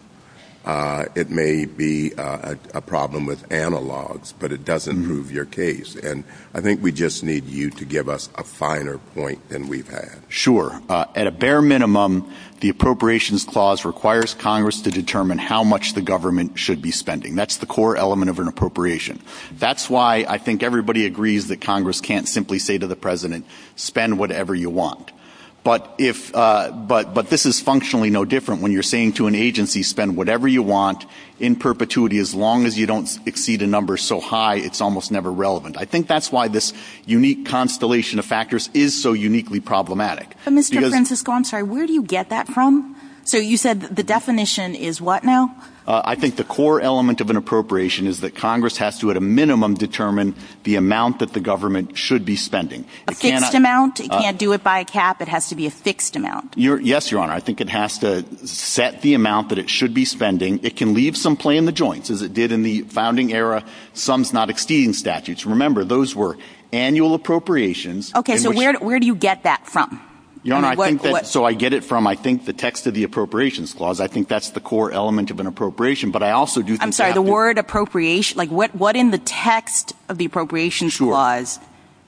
It may be a problem with analogs, but it doesn't prove your case. And I think we just need you to give us a finer point than we've had. Sure. At a bare minimum, the appropriations clause requires Congress to determine how much the government should be spending. That's the core element of an appropriation. That's why I think everybody agrees that Congress can't simply say to the president, spend whatever you want. But this is functionally no different when you're saying to an agency, spend whatever you want in perpetuity. As long as you don't exceed a number so high, it's almost never relevant. I think that's why this unique constellation of factors is so uniquely problematic. Mr. Francisco, I'm sorry, where do you get that from? So you said the definition is what now? I think the core element of an appropriation is that Congress has to, at a minimum, determine the amount that the government should be spending. A fixed amount? It can't do it by a cap? It has to be a fixed amount? Yes, Your Honor. I think it has to set the amount that it should be spending. It can leave some play in the joints, as it did in the founding era. Some's not exceeding statutes. Remember, those were annual appropriations. Okay, so where do you get that from? Your Honor, I think that's where I get it from. I think the text of the appropriations clause, I think that's the core element of an appropriation. I'm sorry, the word appropriation, like what in the text of the appropriations clause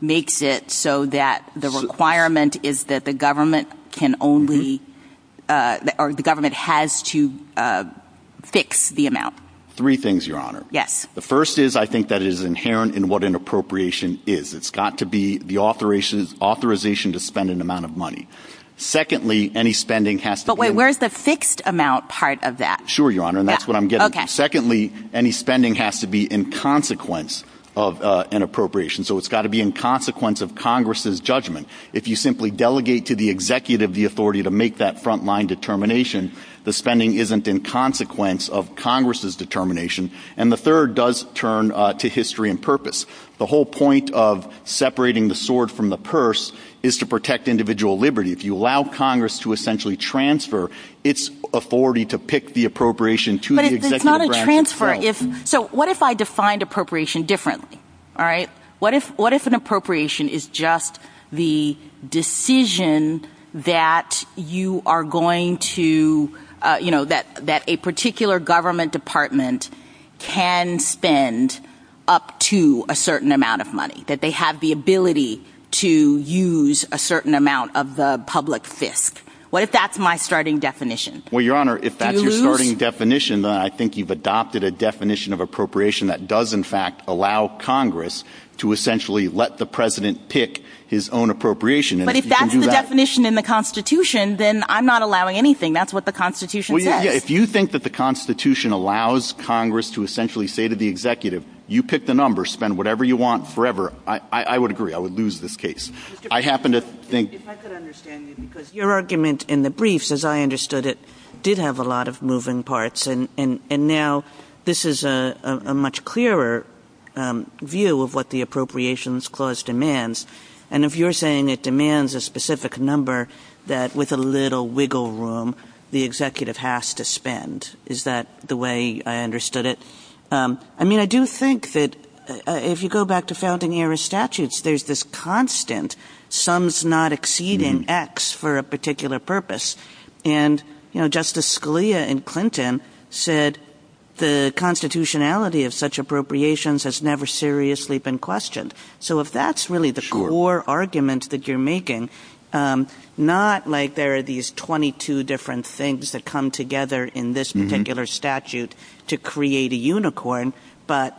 makes it so that the requirement is that the government has to fix the amount? Three things, Your Honor. Yes. The first is I think that it is inherent in what an appropriation is. It's got to be the authorization to spend an amount of money. Secondly, any spending has to be Where's the fixed amount part of that? Sure, Your Honor, and that's what I'm getting at. Secondly, any spending has to be in consequence of an appropriation. So it's got to be in consequence of Congress's judgment. If you simply delegate to the executive the authority to make that front-line determination, the spending isn't in consequence of Congress's determination. And the third does turn to history and purpose. The whole point of separating the sword from the purse is to protect individual liberty. If you allow Congress to essentially transfer its authority to pick the appropriation to the executive branch. But it's not a transfer. So what if I defined appropriation differently, all right? What if an appropriation is just the decision that you are going to, you know, that a particular government department can spend up to a certain amount of money, that they have the ability to use a certain amount of the public fist? What if that's my starting definition? Well, Your Honor, if that's your starting definition, then I think you've adopted a definition of appropriation that does in fact allow Congress to essentially let the president pick his own appropriation. But if that's the definition in the Constitution, then I'm not allowing anything. That's what the Constitution says. If you think that the Constitution allows Congress to essentially say to the executive, you pick the number, spend whatever you want forever, I would agree. I would lose this case. I happen to think. Your argument in the briefs, as I understood it, did have a lot of moving parts. And now this is a much clearer view of what the Appropriations Clause demands. And if you're saying it demands a specific number that with a little wiggle room the executive has to spend, is that the way I understood it? I mean, I do think that if you go back to founding era statutes, there's this constant sums not exceeding X for a particular purpose. And Justice Scalia and Clinton said the constitutionality of such appropriations has never seriously been questioned. So if that's really the core argument that you're making, not like there are these 22 different things that come together in this particular statute to create a unicorn, but,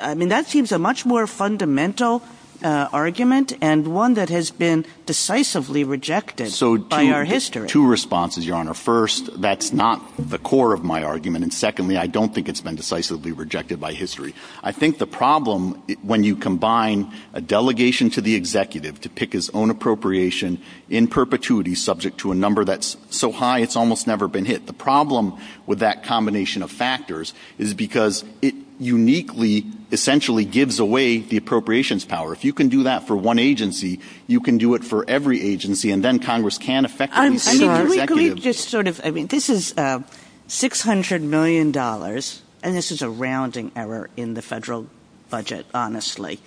I mean, that seems a much more fundamental argument and one that has been decisively rejected by our history. Two responses, Your Honor. First, that's not the core of my argument. And secondly, I don't think it's been decisively rejected by history. I think the problem when you combine a delegation to the executive to pick his own appropriation in perpetuity subject to a number that's so high it's almost never been hit, the problem with that combination of factors is because it uniquely, essentially, gives away the appropriations power. If you can do that for one agency, you can do it for every agency, and then Congress can affect the executive. I mean, this is $600 million, and this is a rounding error in the federal budget, honestly,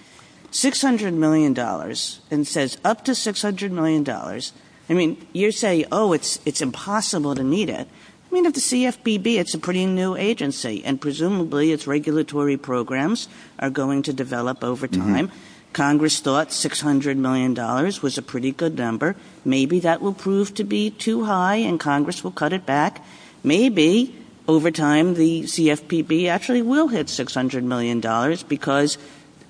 $600 million and says up to $600 million, I mean, you say, oh, it's impossible to meet it. I mean, at the CFPB, it's a pretty new agency, and presumably, its regulatory programs are going to develop over time. Congress thought $600 million was a pretty good number. Maybe that will prove to be too high, and Congress will cut it back. Maybe over time, the CFPB actually will hit $600 million because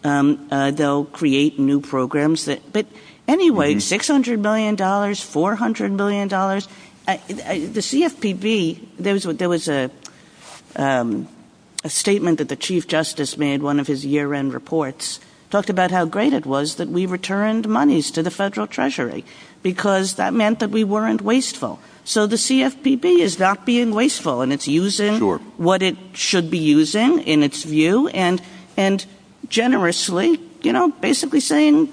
they'll create new programs. But anyway, $600 million, $400 million, the CFPB, there was a statement that the chief justice made in one of his year-end reports, talked about how great it was that we returned monies to the federal treasury because that meant that we weren't wasteful. So the CFPB is not being wasteful, and it's using what it should be using in its view and generously, you know, basically saying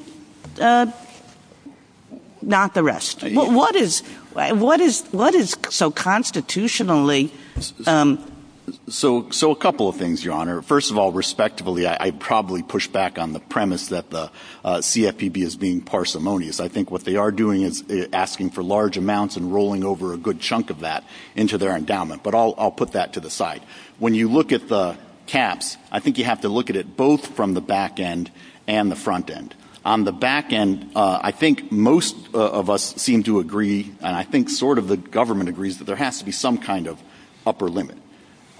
not the rest. What is so constitutionally? So a couple of things, Your Honor. First of all, respectively, I probably push back on the premise that the CFPB is being parsimonious. I think what they are doing is asking for large amounts and rolling over a good chunk of that into their endowment, but I'll put that to the side. When you look at the caps, I think you have to look at it both from the back end and the front end. On the back end, I think most of us seem to agree, and I think sort of the government agrees that there has to be some kind of upper limit.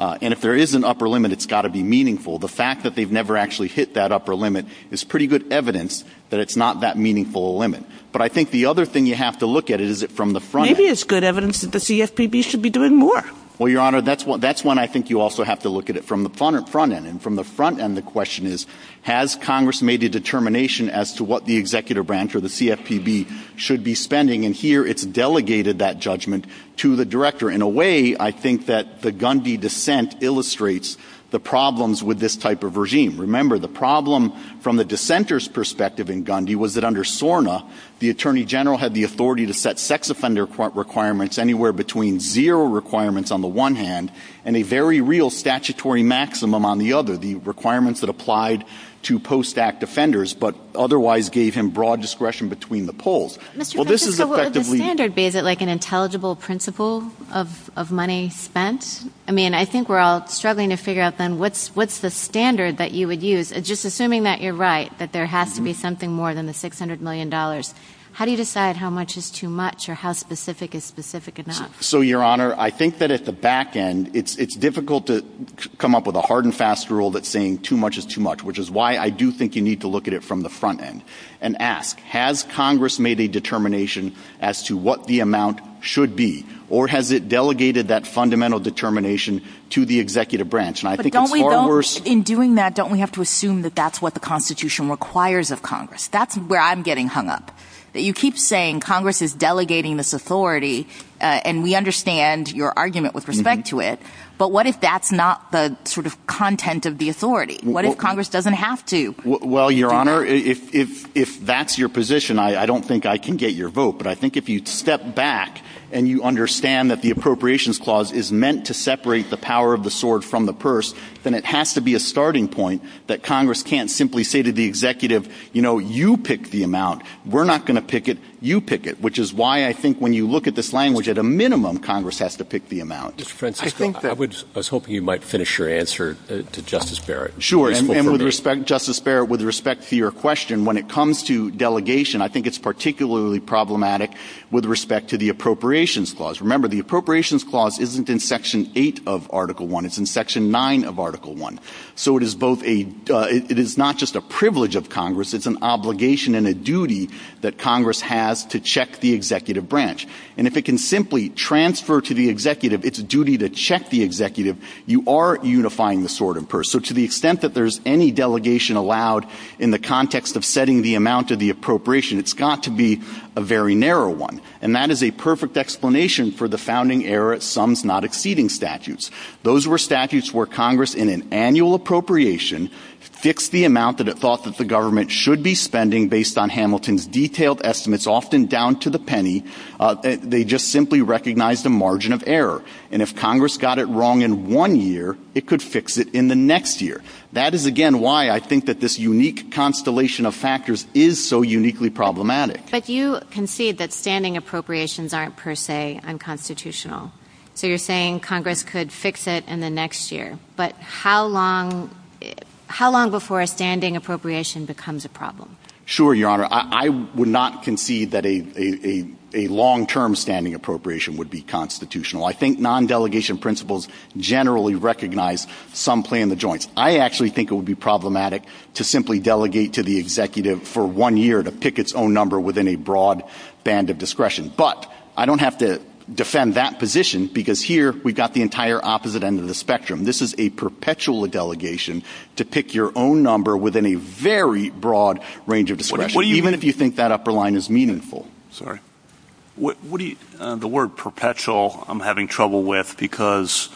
And if there is an upper limit, it's got to be meaningful. The fact that they've never actually hit that upper limit is pretty good evidence that it's not that meaningful a limit. But I think the other thing you have to look at is it from the front end. Maybe it's good evidence that the CFPB should be doing more. Well, Your Honor, that's when I think you also have to look at it from the front end. And from the front end, the question is, has Congress made a determination as to what the executive branch or the CFPB should be spending? And here it's delegated that judgment to the director. In a way, I think that the Gundy dissent illustrates the problems with this type of regime. Remember, the problem from the dissenter's perspective in Gundy was that under SORNA, the attorney general had the authority to set sex offender requirements anywhere between zero requirements on the one hand and a very real statutory maximum on the other, the requirements that applied to post-act offenders but otherwise gave him broad discretion between the polls. Mr. Kucinich, is the standard, is it like an intelligible principle of money spent? I mean, I think we're all struggling to figure out then what's the standard that you would use, just assuming that you're right, that there has to be something more than the $600 million. How do you decide how much is too much or how specific is specific enough? So, Your Honor, I think that at the back end, it's difficult to come up with a hard and fast rule that's saying too much is too much, which is why I do think you need to look at it from the front end and ask, has Congress made a determination as to what the amount should be? Or has it delegated that fundamental determination to the executive branch? In doing that, don't we have to assume that that's what the Constitution requires of Congress? That's where I'm getting hung up. You keep saying Congress is delegating this authority, and we understand your argument with respect to it, but what if that's not the sort of content of the authority? What if Congress doesn't have to? Well, Your Honor, if that's your position, I don't think I can get your vote, but I think if you step back and you understand that the Appropriations Clause is meant to separate the power of the sword from the purse, then it has to be a starting point that Congress can't simply say to the executive, you know, you pick the amount. We're not going to pick it. You pick it, which is why I think when you look at this language, at a minimum, Congress has to pick the amount. I was hoping you might finish your answer to Justice Barrett. Sure, and with respect to Justice Barrett, with respect to your question, when it comes to delegation, I think it's particularly problematic with respect to the Appropriations Clause. Remember, the Appropriations Clause isn't in Section 8 of Article I. It's in Section 9 of Article I. So it is both a – it is not just a privilege of Congress. It's an obligation and a duty that Congress has to check the executive branch. And if it can simply transfer to the executive its duty to check the executive, you are unifying the sword and purse. So to the extent that there's any delegation allowed in the context of setting the amount of the appropriation, it's got to be a very narrow one. And that is a perfect explanation for the founding-era sums-not-exceeding statutes. Those were statutes where Congress, in an annual appropriation, fixed the amount that it thought that the government should be spending, based on Hamilton's detailed estimates, often down to the penny. They just simply recognized a margin of error. And if Congress got it wrong in one year, it could fix it in the next year. That is, again, why I think that this unique constellation of factors is so uniquely problematic. But you concede that standing appropriations aren't per se unconstitutional. So you're saying Congress could fix it in the next year. But how long before a standing appropriation becomes a problem? Sure, Your Honor. I would not concede that a long-term standing appropriation would be constitutional. I think non-delegation principles generally recognize some play in the joints. I actually think it would be problematic to simply delegate to the executive for one year to pick its own number within a broad band of discretion. But I don't have to defend that position because here we've got the entire opposite end of the spectrum. This is a perpetual delegation to pick your own number within a very broad range of discretion, even if you think that upper line is meaningful. The word perpetual I'm having trouble with because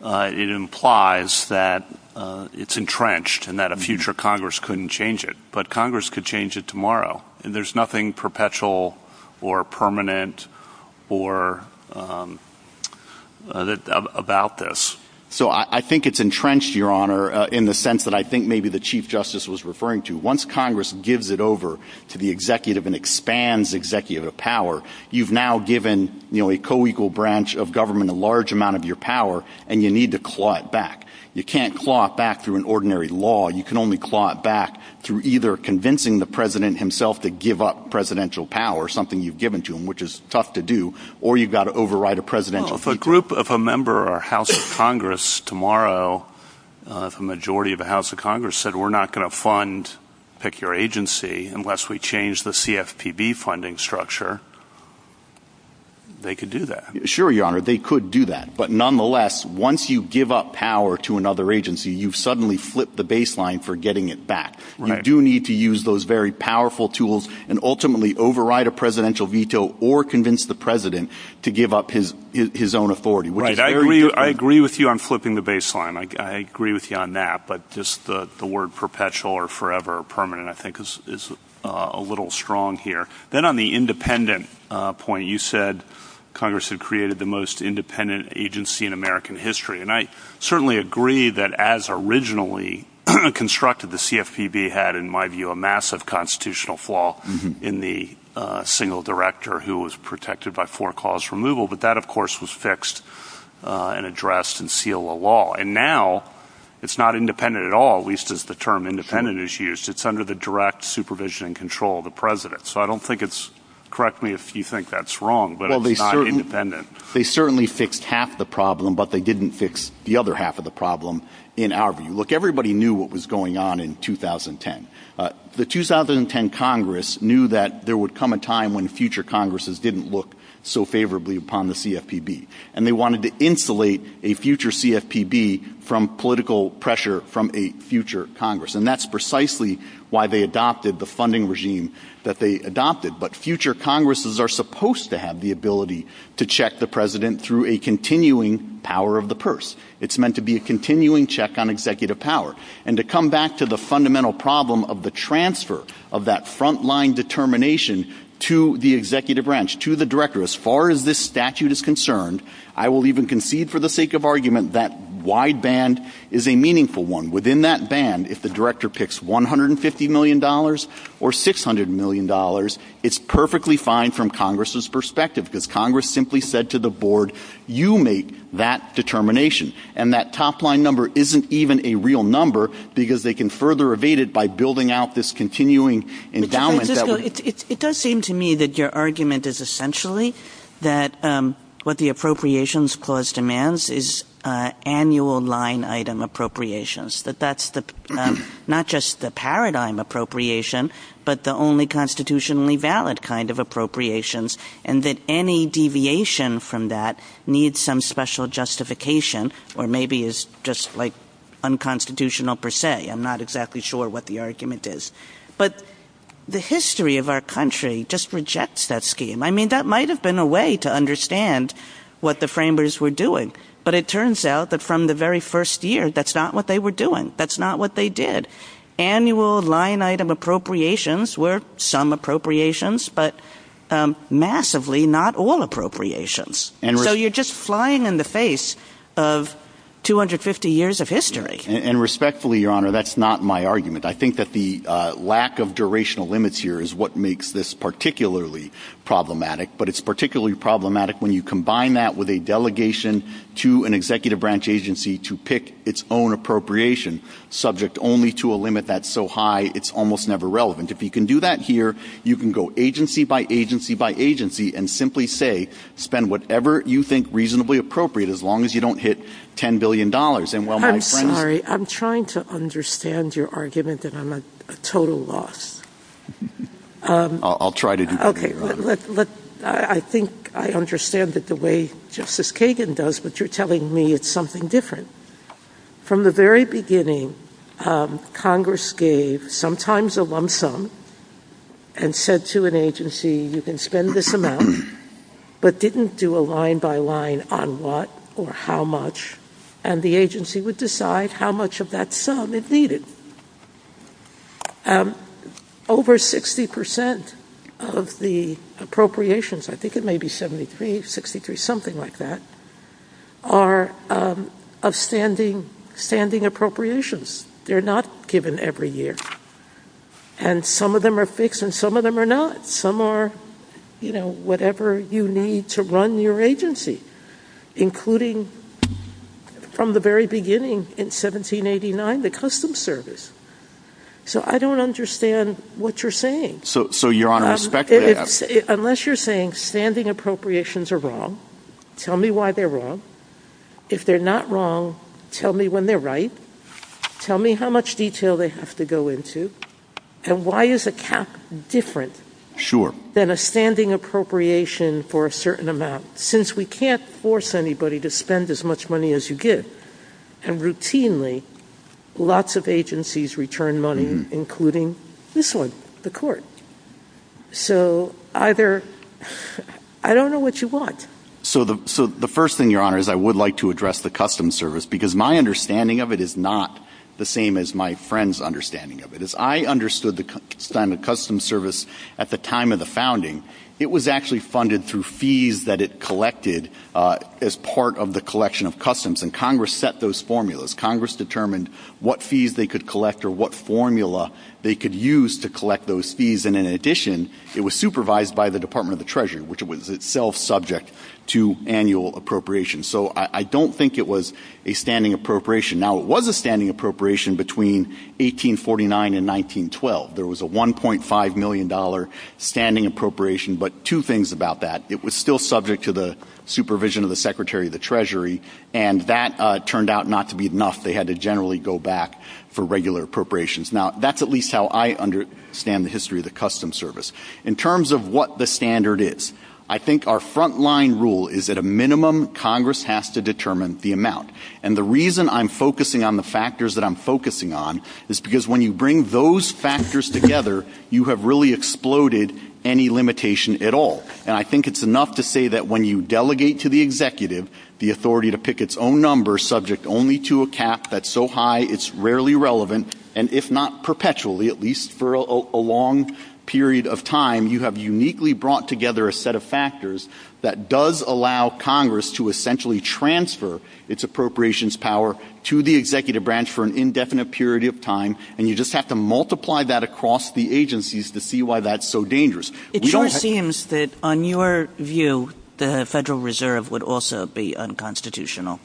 it implies that it's entrenched and that a future Congress couldn't change it. But Congress could change it tomorrow. There's nothing perpetual or permanent about this. So I think it's entrenched, Your Honor, in the sense that I think maybe the Chief Justice was referring to. Once Congress gives it over to the executive and expands executive power, you've now given a co-equal branch of government a large amount of your power, and you need to claw it back. You can't claw it back through an ordinary law. You can only claw it back through either convincing the president himself to give up presidential power, something you've given to him, which is tough to do, or you've got to override a presidential. Well, if a group of a member of our House of Congress tomorrow, if a majority of the House of Congress said we're not going to fund Pick Your Agency unless we change the CFPB funding structure, they could do that. Sure, Your Honor, they could do that. But nonetheless, once you give up power to another agency, you've suddenly flipped the baseline for getting it back. You do need to use those very powerful tools and ultimately override a presidential veto or convince the president to give up his own authority. I agree with you on flipping the baseline. I agree with you on that. But just the word perpetual or forever or permanent I think is a little strong here. Then on the independent point, you said Congress had created the most independent agency in American history. And I certainly agree that as originally constructed, the CFPB had, in my view, a massive constitutional flaw in the single director who was protected by four-clause removal. But that, of course, was fixed and addressed and sealed the law. And now it's not independent at all, at least as the term independent is used. It's under the direct supervision and control of the president. So I don't think it's – correct me if you think that's wrong, but it's not independent. They certainly fixed half the problem, but they didn't fix the other half of the problem in our view. Look, everybody knew what was going on in 2010. The 2010 Congress knew that there would come a time when future Congresses didn't look so favorably upon the CFPB. And they wanted to insulate a future CFPB from political pressure from a future Congress. And that's precisely why they adopted the funding regime that they adopted. But future Congresses are supposed to have the ability to check the president through a continuing power of the purse. It's meant to be a continuing check on executive power. And to come back to the fundamental problem of the transfer of that front-line determination to the executive branch, to the director, as far as this statute is concerned, I will even concede for the sake of argument that wide band is a meaningful one. Within that band, if the director picks $150 million or $600 million, it's perfectly fine from Congress's perspective because Congress simply said to the board, you make that determination. And that top-line number isn't even a real number because they can further evade it by building out this continuing endowment. It does seem to me that your argument is essentially that what the appropriations clause demands is annual line item appropriations. That that's not just the paradigm appropriation, but the only constitutionally valid kind of appropriations. And that any deviation from that needs some special justification or maybe is just like unconstitutional per se. I'm not exactly sure what the argument is. But the history of our country just rejects that scheme. I mean, that might have been a way to understand what the framers were doing. But it turns out that from the very first year, that's not what they were doing. That's not what they did. Annual line item appropriations were some appropriations, but massively not all appropriations. And so you're just flying in the face of 250 years of history. And respectfully, Your Honor, that's not my argument. I think that the lack of durational limits here is what makes this particularly problematic. But it's particularly problematic when you combine that with a delegation to an executive branch agency to pick its own appropriation subject only to a limit that's so high it's almost never relevant. If you can do that here, you can go agency by agency by agency and simply say spend whatever you think reasonably appropriate as long as you don't hit $10 billion. I'm sorry. I'm trying to understand your argument that I'm a total loss. I'll try to do better. Okay. I think I understand it the way Justice Kagan does, but you're telling me it's something different. From the very beginning, Congress gave sometimes a lump sum and said to an agency, you can spend this amount, but didn't do a line by line on what or how much. And the agency would decide how much of that sum it needed. Over 60% of the appropriations, I think it may be 73, 63, something like that, are outstanding appropriations. They're not given every year. And some of them are fixed and some of them are not. Some are, you know, whatever you need to run your agency, including from the very beginning in 1789, the Customs Service. So I don't understand what you're saying. So you're on a spectrum. Unless you're saying standing appropriations are wrong, tell me why they're wrong. If they're not wrong, tell me when they're right. Tell me how much detail they have to go into. And why is a cap different than a standing appropriation for a certain amount? Since we can't force anybody to spend as much money as you give. And routinely, lots of agencies return money, including this one, the court. So either, I don't know what you want. So the first thing, Your Honor, is I would like to address the Customs Service. Because my understanding of it is not the same as my friend's understanding of it. As I understood the Customs Service at the time of the founding, it was actually funded through fees that it collected as part of the collection of customs. And Congress set those formulas. Congress determined what fees they could collect or what formula they could use to collect those fees. And in addition, it was supervised by the Department of the Treasury, which was itself subject to annual appropriations. So I don't think it was a standing appropriation. Now, it was a standing appropriation between 1849 and 1912. There was a $1.5 million standing appropriation. But two things about that. It was still subject to the supervision of the Secretary of the Treasury. And that turned out not to be enough. They had to generally go back for regular appropriations. Now, that's at least how I understand the history of the Customs Service. In terms of what the standard is, I think our front-line rule is that a minimum Congress has to determine the amount. And the reason I'm focusing on the factors that I'm focusing on is because when you bring those factors together, you have really exploded any limitation at all. And I think it's enough to say that when you delegate to the executive the authority to pick its own number subject only to a cap that's so high it's rarely relevant. And if not perpetually, at least for a long period of time, you have uniquely brought together a set of factors that does allow Congress to essentially transfer its appropriations power to the executive branch for an indefinite period of time. And you just have to multiply that across the agencies to see why that's so dangerous. It sure seems that, on your view, the Federal Reserve would also be unconstitutional.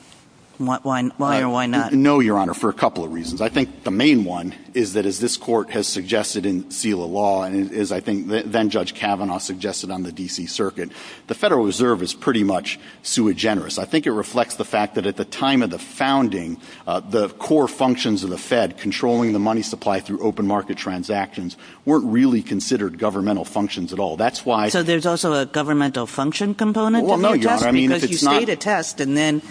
Why or why not? No, Your Honor, for a couple of reasons. I think the main one is that, as this Court has suggested in SELA law, and as I think then-Judge Kavanaugh suggested on the D.C. Circuit, the Federal Reserve is pretty much sui generis. I think it reflects the fact that at the time of the founding, the core functions of the Fed, controlling the money supply through open market transactions, weren't really considered governmental functions at all. That's why— So there's also a governmental function component? Well, no, Your Honor, I mean, if it's not— Because you state a test, and then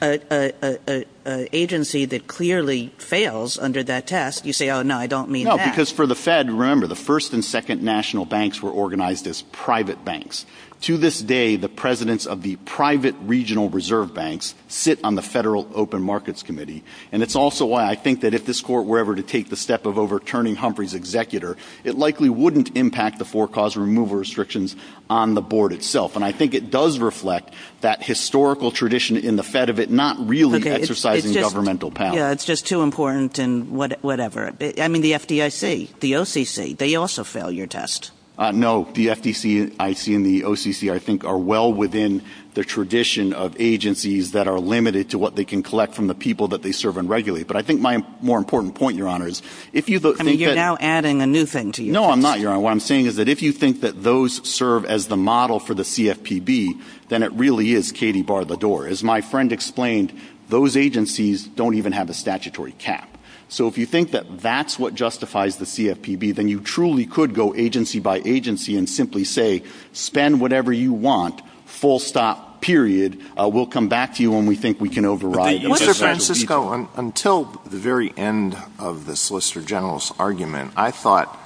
an agency that clearly fails under that test, you say, oh, no, I don't mean that. No, because for the Fed, remember, the first and second national banks were organized as private banks. To this day, the presidents of the private regional reserve banks sit on the Federal Open Markets Committee. And it's also why I think that if this Court were ever to take the step of overturning Humphrey's executor, it likely wouldn't impact the forecaused removal restrictions on the board itself. And I think it does reflect that historical tradition in the Fed of it not really exercising governmental powers. Yeah, it's just too important and whatever. I mean, the FDIC, the OCC, they also fail your test. No, the FDIC and the OCC, I think, are well within the tradition of agencies that are limited to what they can collect from the people that they serve and regulate. But I think my more important point, Your Honor, is if you think that— I mean, you're now adding a new thing to you. No, I'm not, Your Honor. What I'm saying is that if you think that those serve as the model for the CFPB, then it really is Katy bar the door. As my friend explained, those agencies don't even have a statutory cap. So if you think that that's what justifies the CFPB, then you truly could go agency by agency and simply say, spend whatever you want, full stop, period. We'll come back to you when we think we can override it. Mr. Francisco, until the very end of the Solicitor General's argument, I thought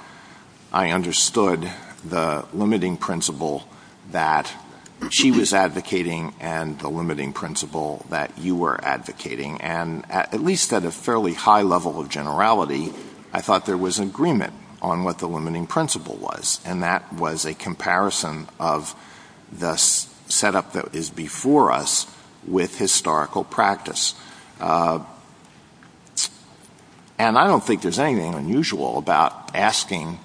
I understood the limiting principle that she was advocating and the limiting principle that you were advocating. And at least at a fairly high level of generality, I thought there was an agreement on what the limiting principle was, and that was a comparison of the setup that is before us with historical practice. And I don't think there's anything unusual about asking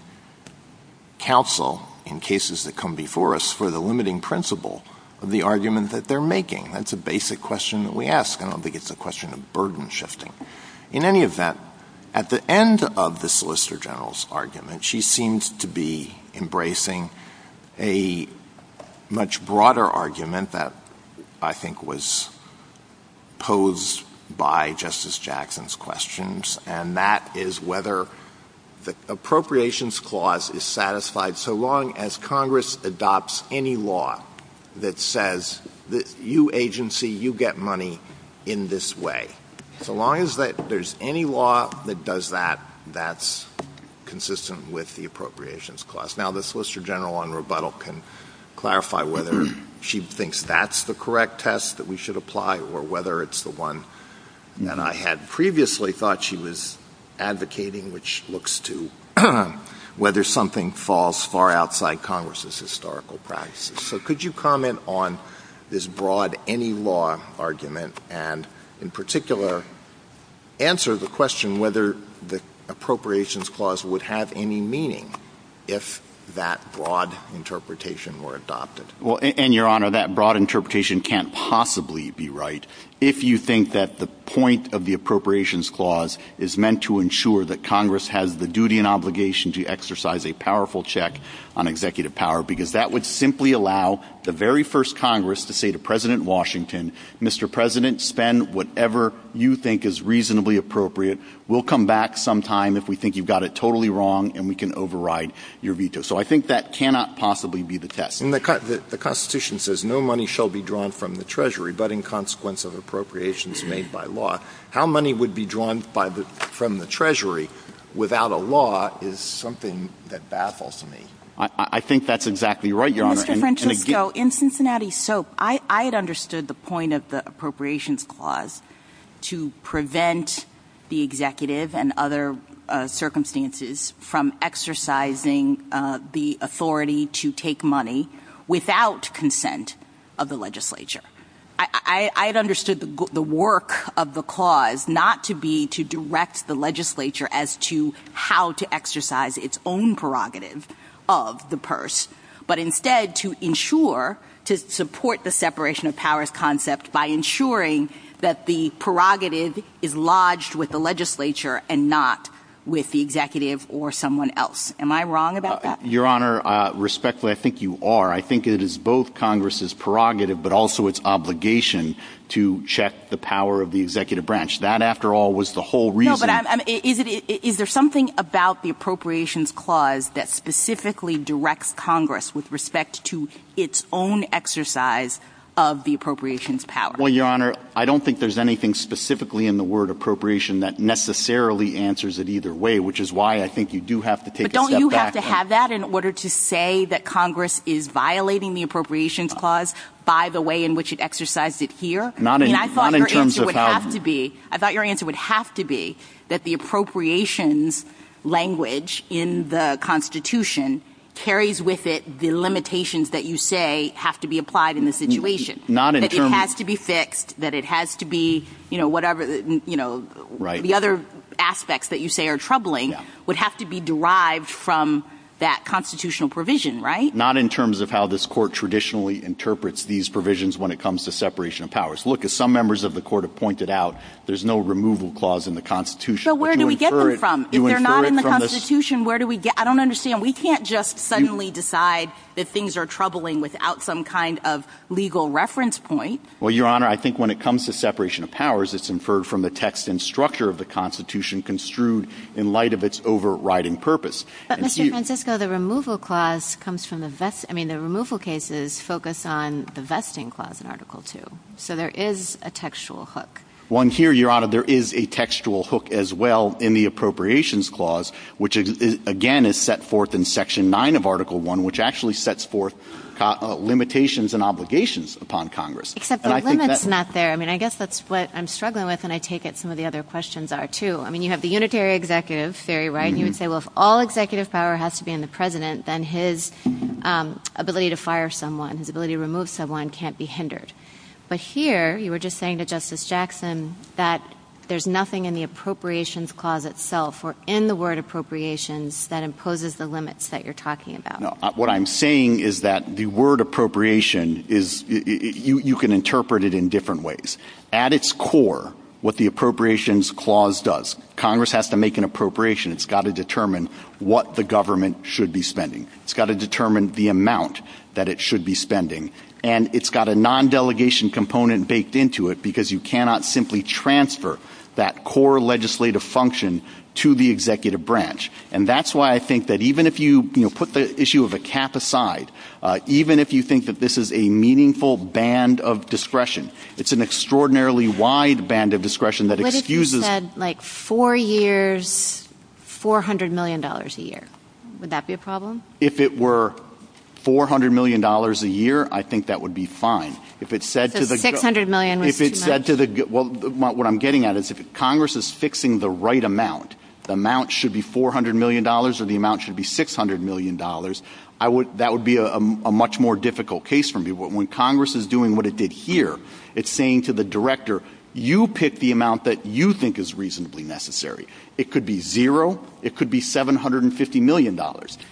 counsel in cases that come before us for the limiting principle of the argument that they're making. That's a basic question that we ask. I don't think it's a question of burden shifting. In any event, at the end of the Solicitor General's argument, she seems to be embracing a much broader argument that I think was posed by Justice Jackson's questions, and that is whether the appropriations clause is satisfied so long as Congress adopts any law that says, you agency, you get money in this way. So long as there's any law that does that, that's consistent with the appropriations clause. Now, the Solicitor General on rebuttal can clarify whether she thinks that's the correct test that we should apply or whether it's the one that I had previously thought she was advocating, which looks to whether something falls far outside Congress's historical practices. So could you comment on this broad any law argument and, in particular, answer the question whether the appropriations clause would have any meaning if that broad interpretation were adopted? Because that would simply allow the very first Congress to say to President Washington, Mr. President, spend whatever you think is reasonably appropriate. We'll come back sometime if we think you've got it totally wrong, and we can override your veto. So I think that cannot possibly be the test. The Constitution says no money shall be drawn from the Treasury, but in consequence of appropriations made by law. How money would be drawn from the Treasury without a law is something that baffles me. I think that's exactly right, Your Honor. In Cincinnati Soap, I had understood the point of the appropriations clause to prevent the executive and other circumstances from exercising the authority to take money without consent of the legislature. I had understood the work of the clause not to be to direct the legislature as to how to exercise its own prerogative of the purse, but instead to ensure to support the separation of powers concept by ensuring that the prerogative is lodged with the legislature and not with the executive or someone else. Am I wrong about that? Your Honor, respectfully, I think you are. I think it is both Congress's prerogative but also its obligation to check the power of the executive branch. That, after all, was the whole reason. No, but is there something about the appropriations clause that specifically directs Congress with respect to its own exercise of the appropriations power? Well, Your Honor, I don't think there's anything specifically in the word appropriation that necessarily answers it either way, which is why I think you do have to take a step back. But don't you have to have that in order to say that Congress is violating the appropriations clause by the way in which it exercised it here? I thought your answer would have to be that the appropriations language in the Constitution carries with it the limitations that you say have to be applied in the situation. It has to be fixed. The other aspects that you say are troubling would have to be derived from that constitutional provision, right? Not in terms of how this Court traditionally interprets these provisions when it comes to separation of powers. Look, as some members of the Court have pointed out, there's no removal clause in the Constitution. So where do we get them from? If they're not in the Constitution, where do we get them from? I don't understand. We can't just suddenly decide that things are troubling without some kind of legal reference point. Well, Your Honor, I think when it comes to separation of powers, it's inferred from the text and structure of the Constitution construed in light of its overriding purpose. But, Mr. Francisco, the removal clause comes from the vesting – I mean, the removal cases focus on the vesting clause in Article II. So there is a textual hook. One here, Your Honor, there is a textual hook as well in the Appropriations Clause, which, again, is set forth in Section 9 of Article I, which actually sets forth limitations and obligations upon Congress. Except the limit's not there. I mean, I guess that's what I'm struggling with, and I take it some of the other questions are, too. I mean, you have the unitary executive theory, right? You would say, well, if all executive power has to be in the President, then his ability to fire someone, his ability to remove someone can't be hindered. But here, you were just saying to Justice Jackson that there's nothing in the Appropriations Clause itself or in the word appropriations that imposes the limits that you're talking about. Now, what I'm saying is that the word appropriation is – you can interpret it in different ways. At its core, what the Appropriations Clause does, Congress has to make an appropriation. It's got to determine what the government should be spending. It's got to determine the amount that it should be spending. And it's got a non-delegation component baked into it because you cannot simply transfer that core legislative function to the executive branch. And that's why I think that even if you put the issue of a cap aside, even if you think that this is a meaningful band of discretion, it's an extraordinarily wide band of discretion that excuses – What if you said, like, four years, $400 million a year? Would that be a problem? If it were $400 million a year, I think that would be fine. If it said to the – $600 million would be fine. If it said to the – what I'm getting at is if Congress is fixing the right amount, the amount should be $400 million or the amount should be $600 million, that would be a much more difficult case for me. When Congress is doing what it did here, it's saying to the director, you pick the amount that you think is reasonably necessary. It could be zero. It could be $750 million.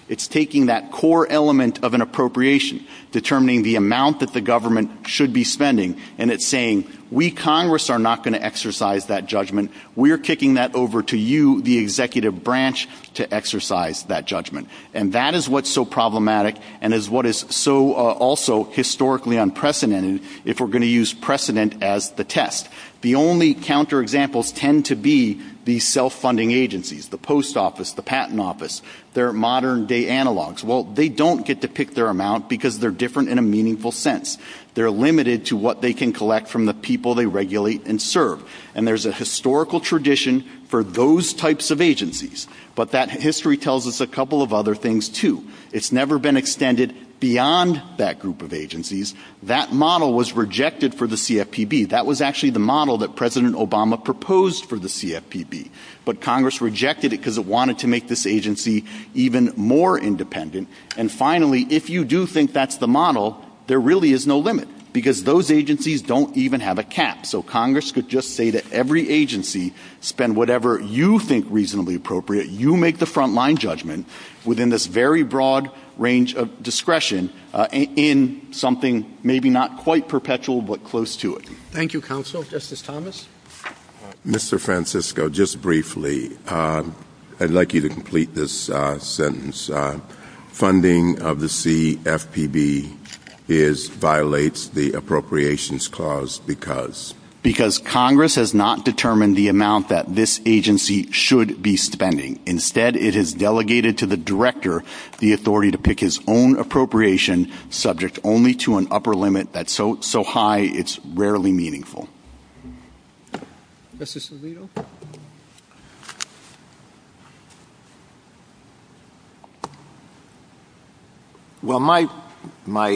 It's taking that core element of an appropriation, determining the amount that the government should be spending, and it's saying, we, Congress, are not going to exercise that judgment. We're kicking that over to you, the executive branch, to exercise that judgment. And that is what's so problematic and is what is so also historically unprecedented if we're going to use precedent as the test. The only counterexamples tend to be the self-funding agencies, the post office, the patent office, their modern-day analogs. Well, they don't get to pick their amount because they're different in a meaningful sense. They're limited to what they can collect from the people they regulate and serve. And there's a historical tradition for those types of agencies. But that history tells us a couple of other things, too. It's never been extended beyond that group of agencies. That model was rejected for the CFPB. That was actually the model that President Obama proposed for the CFPB. But Congress rejected it because it wanted to make this agency even more independent. And finally, if you do think that's the model, there really is no limit because those agencies don't even have a cap. So Congress could just say to every agency, spend whatever you think reasonably appropriate. You make the front-line judgment within this very broad range of discretion in something maybe not quite perpetual but close to it. Thank you, Counsel. Justice Thomas? Mr. Francisco, just briefly, I'd like you to complete this sentence. Funding of the CFPB violates the appropriations clause because? Because Congress has not determined the amount that this agency should be spending. Instead, it has delegated to the director the authority to pick his own appropriation subject only to an upper limit that's so high it's rarely meaningful. Justice Alito? Well, my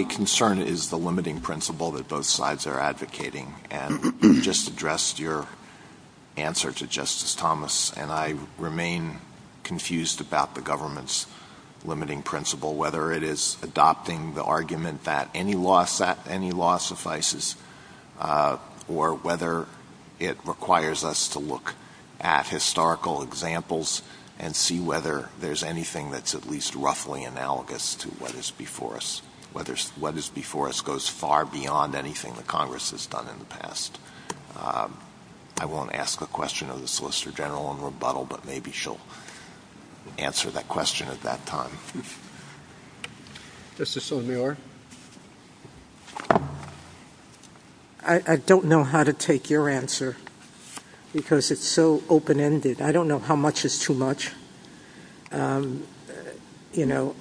concern is the limiting principle that both sides are advocating. And you just addressed your answer to Justice Thomas, and I remain confused about the government's limiting principle, whether it is adopting the argument that any law suffices or whether it requires us to look at historical examples and see whether there's anything that's at least roughly analogous to what is before us, whether what is before us goes far beyond anything that Congress has done in the past. I won't ask a question of the Solicitor General in rebuttal, but maybe she'll answer that question at that time. Justice O'Neill? I don't know how to take your answer because it's so open-ended. I don't know how much is too much. You know,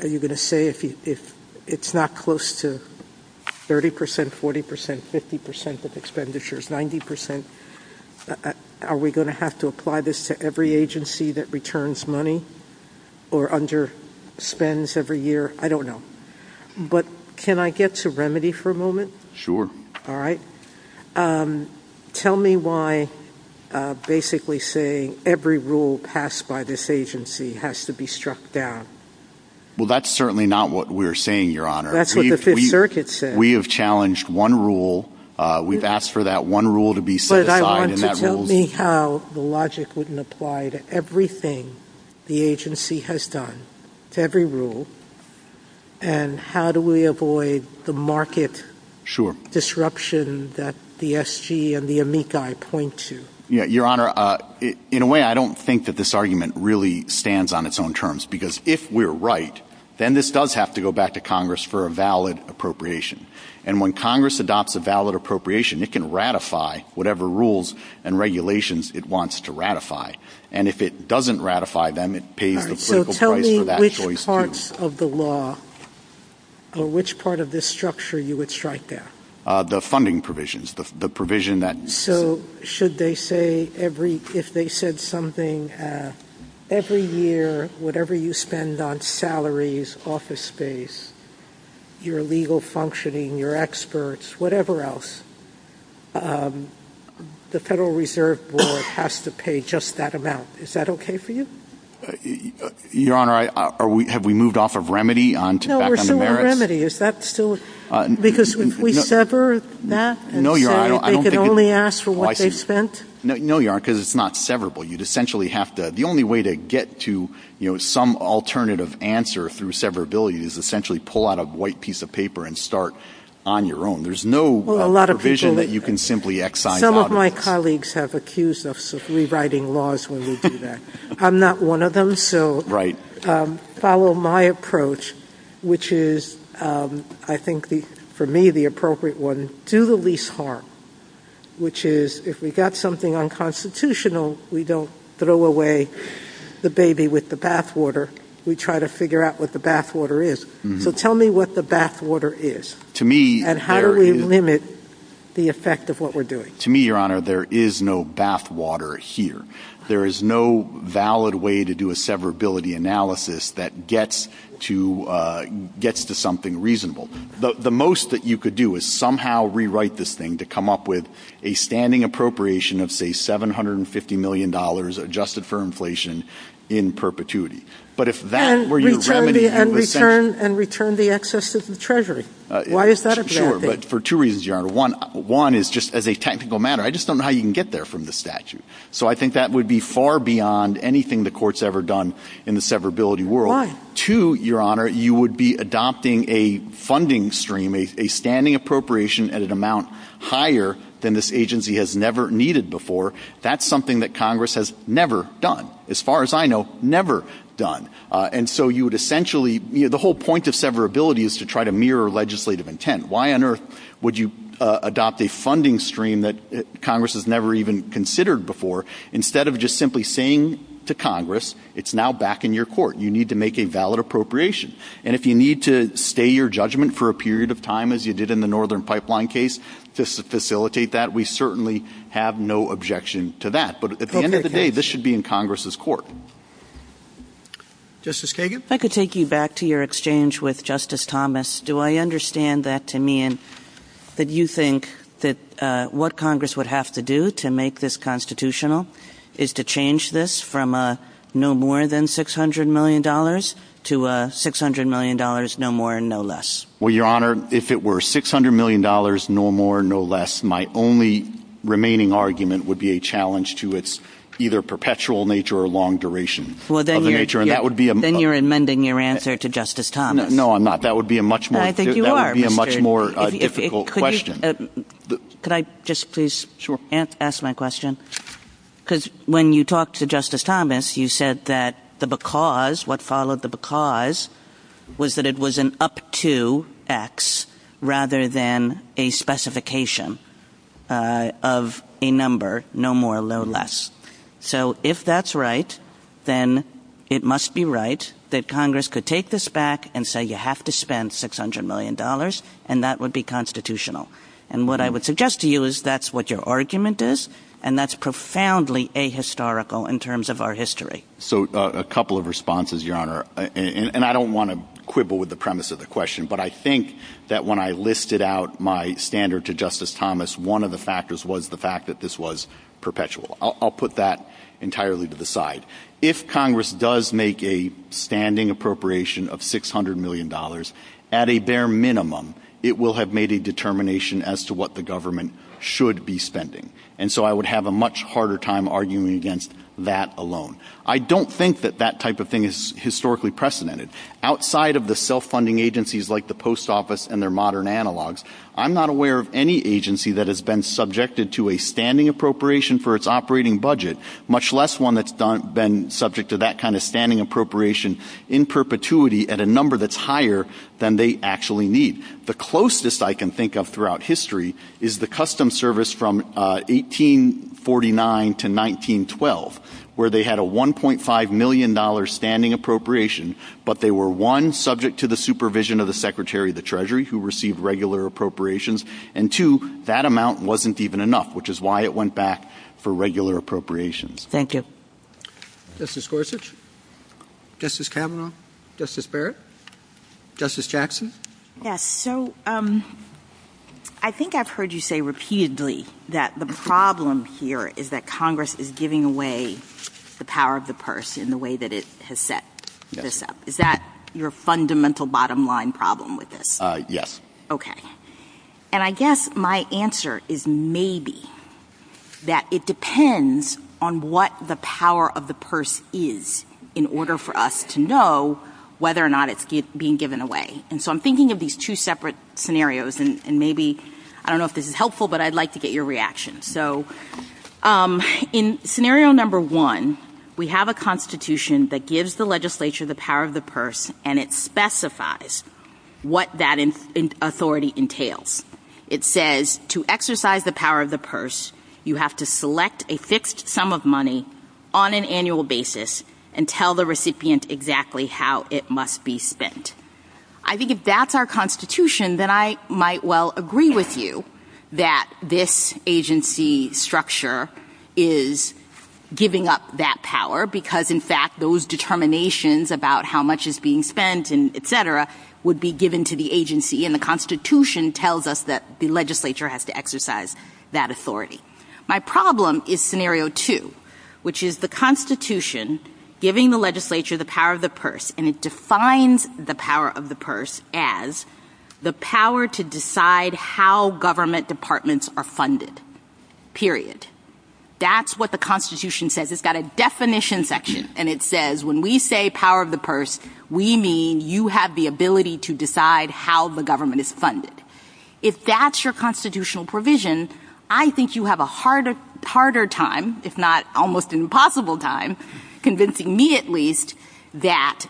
are you going to say if it's not close to 30 percent, 40 percent, 50 percent of expenditures, 90 percent, are we going to have to apply this to every agency that returns money or underspends every year? I don't know. But can I get to remedy for a moment? Sure. All right. Tell me why basically saying every rule passed by this agency has to be struck down. Well, that's certainly not what we're saying, Your Honor. That's what the Fifth Circuit said. We have challenged one rule. We've asked for that one rule to be set aside. But I want you to tell me how the logic wouldn't apply to everything the agency has done, every rule, and how do we avoid the market disruption that the SG and the amici point to? Yeah, Your Honor, in a way, I don't think that this argument really stands on its own terms because if we're right, then this does have to go back to Congress for a valid appropriation. And when Congress adopts a valid appropriation, it can ratify whatever rules and regulations it wants to ratify. And if it doesn't ratify them, it pays a political price for that choice. Which part of the law or which part of this structure you would strike down? The funding provisions, the provision that— So should they say every—if they said something, every year, whatever you spend on salaries, office space, your legal functioning, your experts, whatever else, the Federal Reserve Board has to pay just that amount. Is that okay for you? Your Honor, have we moved off of remedy back on the merits? No, we're still on remedy. Is that still—because if we sever that, they can only ask for what they've spent? No, Your Honor, because it's not severable. You'd essentially have to—the only way to get to some alternative answer through severability is essentially pull out a white piece of paper and start on your own. There's no provision that you can simply excise. Some of my colleagues have accused us of rewriting laws when we do that. I'm not one of them, so follow my approach, which is, I think, for me, the appropriate one. Do the least harm, which is if we've got something unconstitutional, we don't throw away the baby with the bathwater. We try to figure out what the bathwater is. So tell me what the bathwater is and how do we limit the effect of what we're doing? To me, Your Honor, there is no bathwater here. There is no valid way to do a severability analysis that gets to something reasonable. The most that you could do is somehow rewrite this thing to come up with a standing appropriation of, say, $750 million adjusted for inflation in perpetuity. And return the excess to the Treasury. Why is that a bad thing? Sure, but for two reasons, Your Honor. One is, just as a technical matter, I just don't know how you can get there from the statute. So I think that would be far beyond anything the Court's ever done in the severability world. Two, Your Honor, you would be adopting a funding stream, a standing appropriation at an amount higher than this agency has never needed before. That's something that Congress has never done, as far as I know, never done. And so you would essentially, you know, the whole point of severability is to try to mirror legislative intent. Why on earth would you adopt a funding stream that Congress has never even considered before? Instead of just simply saying to Congress, it's now back in your court. You need to make a valid appropriation. And if you need to stay your judgment for a period of time, as you did in the Northern Pipeline case, to facilitate that, we certainly have no objection to that. But at the end of the day, this should be in Congress's court. Justice Kagan? I could take you back to your exchange with Justice Thomas. Do I understand that to mean that you think that what Congress would have to do to make this constitutional is to change this from a no more than $600 million to a $600 million, no more, no less? Well, Your Honor, if it were $600 million, no more, no less, my only remaining argument would be a challenge to its either perpetual nature or long duration. Well, then you're amending your answer to Justice Thomas. No, I'm not. That would be a much more difficult question. Could I just please ask my question? Because when you talked to Justice Thomas, you said that the because, what followed the because, was that it was an up to X rather than a specification of a number, no more, no less. So if that's right, then it must be right that Congress could take this back and say you have to spend $600 million and that would be constitutional. And what I would suggest to you is that's what your argument is, and that's profoundly ahistorical in terms of our history. So a couple of responses, Your Honor. And I don't want to quibble with the premise of the question, but I think that when I listed out my standard to Justice Thomas, one of the factors was the fact that this was perpetual. I'll put that entirely to the side. If Congress does make a standing appropriation of $600 million, at a bare minimum, it will have made a determination as to what the government should be spending. And so I would have a much harder time arguing against that alone. I don't think that that type of thing is historically precedented. Outside of the self-funding agencies like the Post Office and their modern analogs, I'm not aware of any agency that has been subjected to a standing appropriation for its operating budget, much less one that's been subject to that kind of standing appropriation in perpetuity at a number that's higher than they actually need. The closest I can think of throughout history is the Customs Service from 1849 to 1912, where they had a $1.5 million standing appropriation, but they were, one, subject to the supervision of the Secretary of the Treasury, who received regular appropriations, and two, that amount wasn't even enough, which is why it went back for regular appropriations. Thank you. Justice Gorsuch? Justice Kavanaugh? Justice Barrett? Justice Jackson? Yes. So I think I've heard you say repeatedly that the problem here is that Congress is giving away the power of the purse in the way that it has set this up. Is that your fundamental bottom-line problem with this? Yes. Okay. And I guess my answer is maybe that it depends on what the power of the purse is in order for us to know whether or not it's being given away. And so I'm thinking of these two separate scenarios, and maybe, I don't know if this is helpful, but I'd like to get your reaction. So in scenario number one, we have a constitution that gives the legislature the power of the purse, and it specifies what that authority entails. It says to exercise the power of the purse, you have to select a fixed sum of money on an annual basis and tell the recipient exactly how it must be spent. I think if that's our constitution, then I might well agree with you that this agency structure is giving up that power because, in fact, those determinations about how much is being spent and et cetera would be given to the agency, and the constitution tells us that the legislature has to exercise that authority. My problem is scenario two, which is the constitution giving the legislature the power of the purse, and it defines the power of the purse as the power to decide how government departments are funded, period. That's what the constitution says. It's got a definition section, and it says when we say power of the purse, we mean you have the ability to decide how the government is funded. If that's your constitutional provision, I think you have a harder time, if not almost an impossible time, convincing me at least that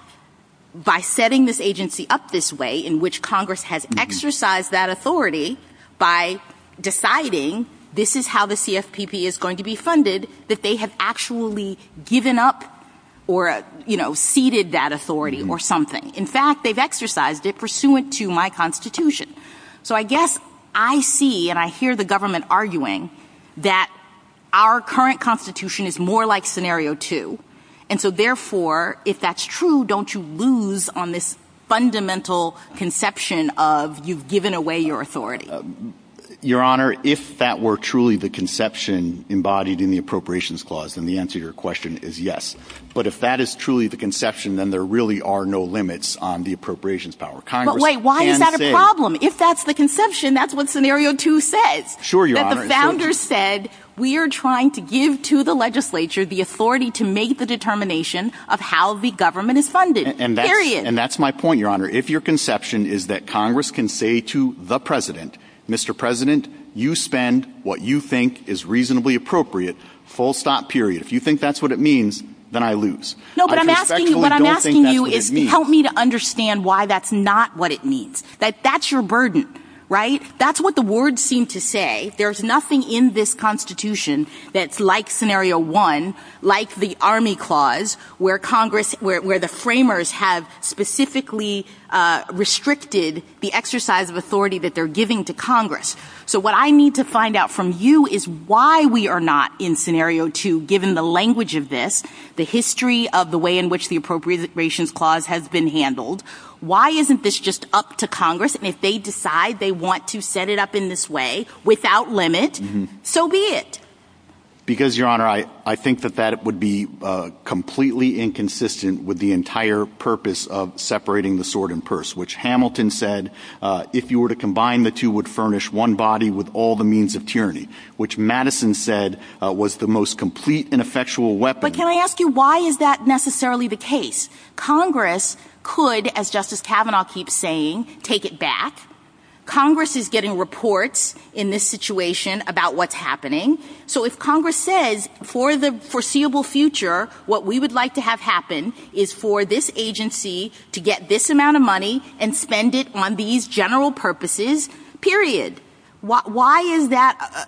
by setting this agency up this way, in which Congress has exercised that authority by deciding this is how the CFPB is going to be funded, that they have actually given up or, you know, ceded that authority or something. In fact, they've exercised it pursuant to my constitution. So I guess I see and I hear the government arguing that our current constitution is more like scenario two, and so therefore if that's true, don't you lose on this fundamental conception of you've given away your authority. Your Honor, if that were truly the conception embodied in the appropriations clause, then the answer to your question is yes. But if that is truly the conception, then there really are no limits on the appropriations power. But wait, why is that a problem? If that's the conception, that's what scenario two says. Sure, Your Honor. That the founders said we are trying to give to the legislature the authority to make the determination of how the government is funded. Period. And that's my point, Your Honor. If your conception is that Congress can say to the President, Mr. President, you spend what you think is reasonably appropriate, full stop, period. If you think that's what it means, then I lose. No, but I'm asking you to help me to understand why that's not what it means. That's your burden, right? That's what the words seem to say. There's nothing in this constitution that's like scenario one, like the army clause, where the framers have specifically restricted the exercise of authority that they're giving to Congress. So what I need to find out from you is why we are not in scenario two, given the language of this, the history of the way in which the appropriations clause has been handled. Why isn't this just up to Congress? And if they decide they want to set it up in this way without limit, so be it. Because, Your Honor, I think that that would be completely inconsistent with the entire purpose of separating the sword and purse, which Hamilton said if you were to combine the two would furnish one body with all the means of tyranny, which Madison said was the most complete and effectual weapon. But can I ask you why is that necessarily the case? Congress could, as Justice Kavanaugh keeps saying, take it back. Congress is getting reports in this situation about what's happening. So if Congress says for the foreseeable future what we would like to have happen is for this agency to get this amount of money and spend it on these general purposes, period, why is that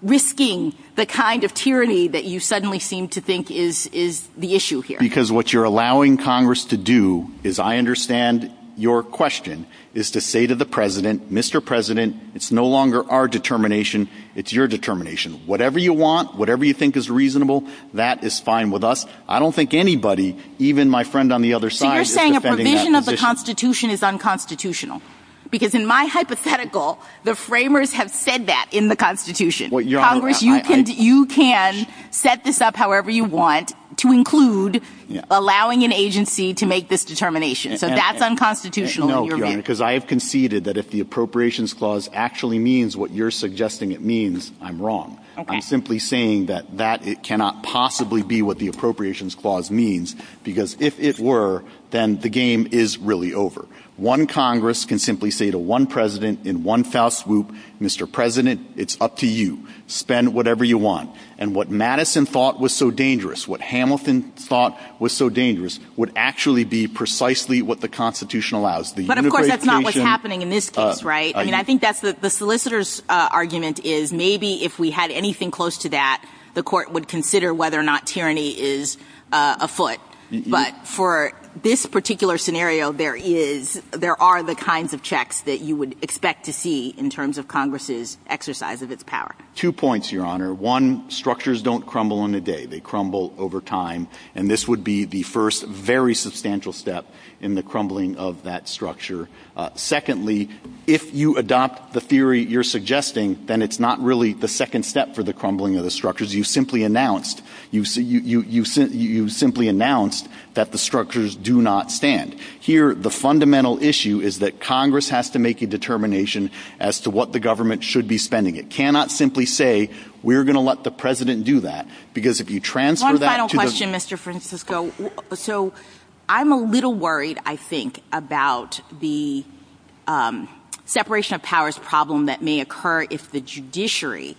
risking the kind of tyranny that you suddenly seem to think is the issue here? Because what you're allowing Congress to do, as I understand your question, is to say to the President, Mr. President, it's no longer our determination, it's your determination. Whatever you want, whatever you think is reasonable, that is fine with us. I don't think anybody, even my friend on the other side, is defending that position. The Constitution is unconstitutional. Because in my hypothetical, the framers have said that in the Constitution. Congress, you can set this up however you want to include allowing an agency to make this determination. So that's unconstitutional. No, because I have conceded that if the Appropriations Clause actually means what you're suggesting it means, I'm wrong. I'm simply saying that it cannot possibly be what the Appropriations Clause means, because if it were, then the game is really over. One Congress can simply say to one President in one fell swoop, Mr. President, it's up to you. Spend whatever you want. And what Madison thought was so dangerous, what Hamilton thought was so dangerous, would actually be precisely what the Constitution allows. But, of course, that's not what's happening in this case, right? I mean, I think the solicitor's argument is maybe if we had anything close to that, the court would consider whether or not tyranny is afoot. But for this particular scenario, there are the kinds of checks that you would expect to see in terms of Congress's exercise of its power. Two points, Your Honor. One, structures don't crumble in a day. They crumble over time. And this would be the first very substantial step in the crumbling of that structure. Secondly, if you adopt the theory you're suggesting, then it's not really the second step for the crumbling of the structures. You've simply announced that the structures do not stand. Here, the fundamental issue is that Congress has to make a determination as to what the government should be spending. It cannot simply say, we're going to let the President do that, because if you transfer that to the- One final question, Mr. Francisco. I'm a little worried, I think, about the separation of powers problem that may occur if the judiciary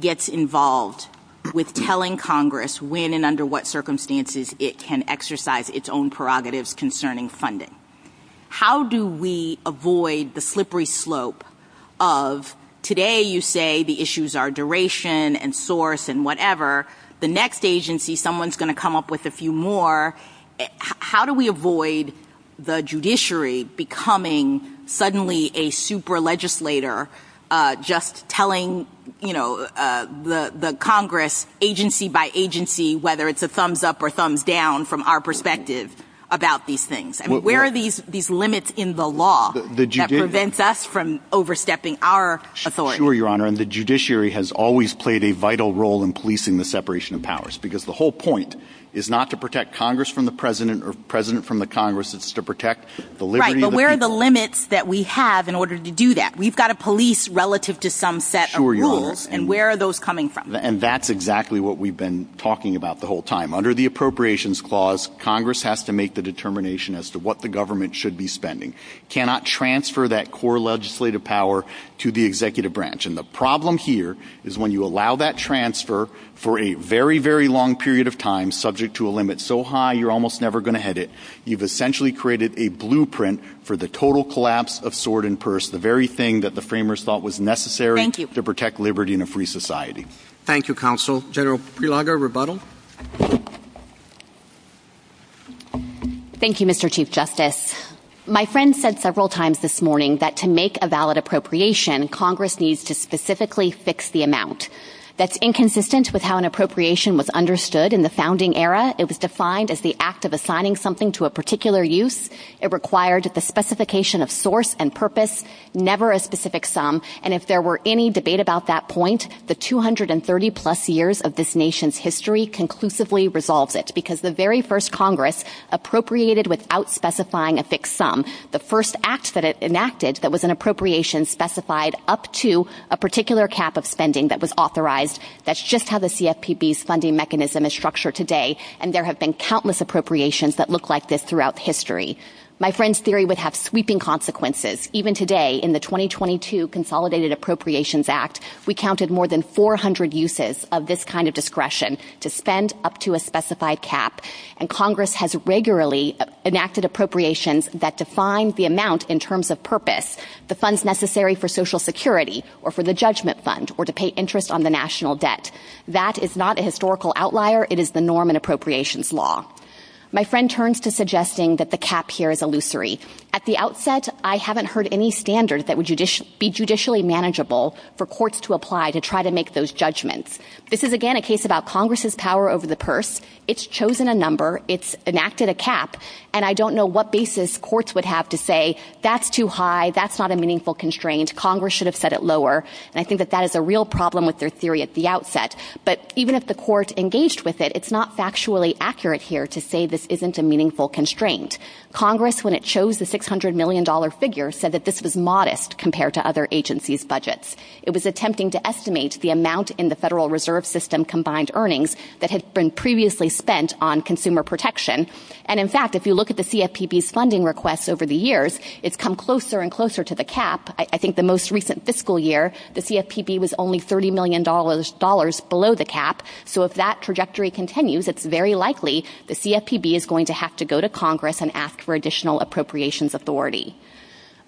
gets involved with telling Congress when and under what circumstances it can exercise its own prerogatives concerning funding. How do we avoid the slippery slope of today you say the issues are duration and source and whatever. The next agency, someone's going to come up with a few more. How do we avoid the judiciary becoming suddenly a super legislator just telling the Congress agency by agency whether it's a thumbs up or thumbs down from our perspective about these things? Where are these limits in the law that prevents us from overstepping our authority? Sure, Your Honor, and the judiciary has always played a vital role in policing the separation of powers. Because the whole point is not to protect Congress from the President or the President from the Congress, it's to protect the liberty- Right, but where are the limits that we have in order to do that? We've got a police relative to some set of rules, and where are those coming from? And that's exactly what we've been talking about the whole time. Under the Appropriations Clause, Congress has to make the determination as to what the government should be spending. It cannot transfer that core legislative power to the executive branch. And the problem here is when you allow that transfer for a very, very long period of time subject to a limit so high you're almost never going to hit it. You've essentially created a blueprint for the total collapse of sword and purse, the very thing that the framers thought was necessary- Thank you. To protect liberty and a free society. Thank you, Counsel. General Prelogar, rebuttal. Thank you, Mr. Chief Justice. My friend said several times this morning that to make a valid appropriation, Congress needs to specifically fix the amount. That's inconsistent with how an appropriation was understood in the founding era. It was defined as the act of assigning something to a particular use. It required the specification of source and purpose, never a specific sum. And if there were any debate about that point, the 230-plus years of this nation's history conclusively resolved it. appropriated without specifying a fixed sum, the first act that it enacted that was an appropriation specified up to a particular cap of spending that was authorized. That's just how the CFPB's funding mechanism is structured today. And there have been countless appropriations that look like this throughout history. My friend's theory would have sweeping consequences. Even today, in the 2022 Consolidated Appropriations Act, we counted more than 400 uses of this kind of discretion to spend up to a specified cap. And Congress has regularly enacted appropriations that define the amount in terms of purpose, the funds necessary for social security or for the judgment fund or to pay interest on the national debt. That is not a historical outlier. It is the norm in appropriations law. My friend turns to suggesting that the cap here is illusory. At the outset, I haven't heard any standard that would be judicially manageable for courts to apply to try to make those judgments. This is, again, a case about Congress's power over the purse. It's chosen a number. It's enacted a cap. And I don't know what basis courts would have to say, that's too high, that's not a meaningful constraint, Congress should have set it lower. And I think that that is a real problem with their theory at the outset. But even if the court engaged with it, it's not factually accurate here to say this isn't a meaningful constraint. Congress, when it chose the $600 million figure, said that this was modest compared to other agencies' budgets. It was attempting to estimate the amount in the Federal Reserve System combined earnings that had been previously spent on consumer protection. And, in fact, if you look at the CFPB's funding requests over the years, it's come closer and closer to the cap. I think the most recent fiscal year, the CFPB was only $30 million below the cap. So if that trajectory continues, it's very likely the CFPB is going to have to go to Congress and ask for additional appropriations authority.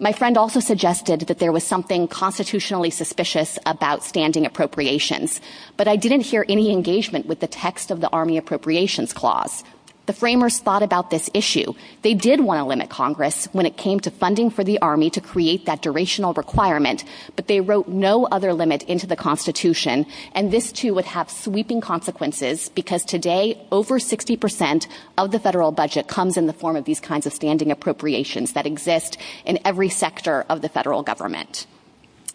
My friend also suggested that there was something constitutionally suspicious about standing appropriations. But I didn't hear any engagement with the text of the Army Appropriations Clause. The framers thought about this issue. They did want to limit Congress when it came to funding for the Army to create that durational requirement. But they wrote no other limit into the Constitution. And this, too, would have sweeping consequences because today over 60% of the federal budget comes in the form of these kinds of standing appropriations that exist in every sector of the federal government.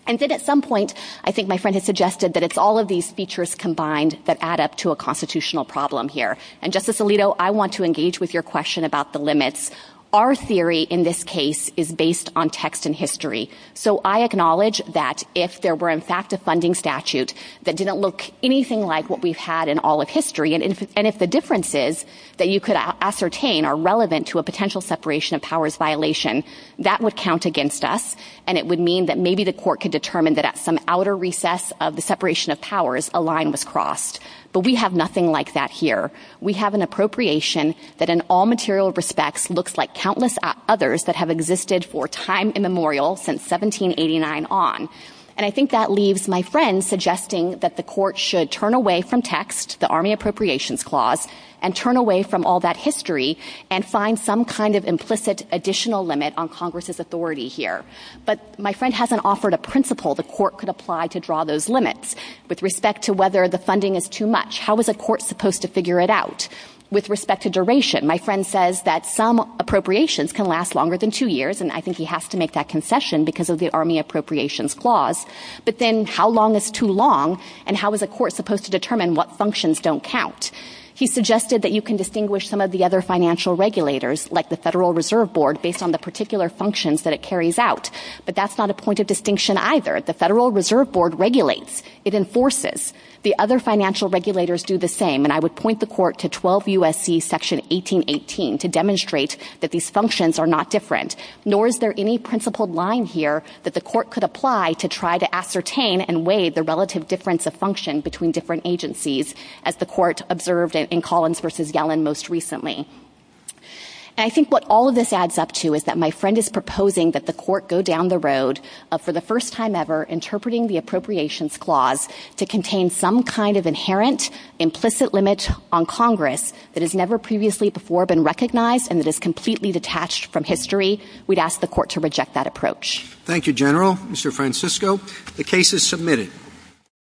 And then at some point, I think my friend had suggested that it's all of these features combined that add up to a constitutional problem here. And, Justice Alito, I want to engage with your question about the limits. Our theory in this case is based on text and history. So I acknowledge that if there were, in fact, a funding statute that didn't look anything like what we've had in all of history, and if the differences that you could ascertain are relevant to a potential separation of powers violation, that would count against us. And it would mean that maybe the court could determine that at some outer recess of the separation of powers, a line was crossed. But we have nothing like that here. We have an appropriation that in all material respects looks like countless others that have existed for time immemorial since 1789 on. And I think that leaves my friend suggesting that the court should turn away from text, the Army Appropriations Clause, and turn away from all that history and find some kind of implicit additional limit on Congress's authority here. But my friend hasn't offered a principle the court could apply to draw those limits. With respect to whether the funding is too much, how is a court supposed to figure it out? With respect to duration, my friend says that some appropriations can last longer than two years, and I think he has to make that concession because of the Army Appropriations Clause. But then how long is too long, and how is a court supposed to determine what functions don't count? He suggested that you can distinguish some of the other financial regulators, like the Federal Reserve Board, based on the particular functions that it carries out. But that's not a point of distinction either. The Federal Reserve Board regulates. It enforces. The other financial regulators do the same. And I would point the court to 12 U.S.C. Section 1818 to demonstrate that these functions are not different, nor is there any principled line here that the court could apply to try to ascertain and weigh the relative difference of function between different agencies, as the court observed in Collins v. Yellen most recently. And I think what all of this adds up to is that my friend is proposing that the court go down the road, for the first time ever, interpreting the Appropriations Clause to contain some kind of inherent, implicit limit on Congress that has never previously before been recognized and that is completely detached from history. We'd ask the court to reject that approach. Thank you, General. Mr. Francisco, the case is submitted.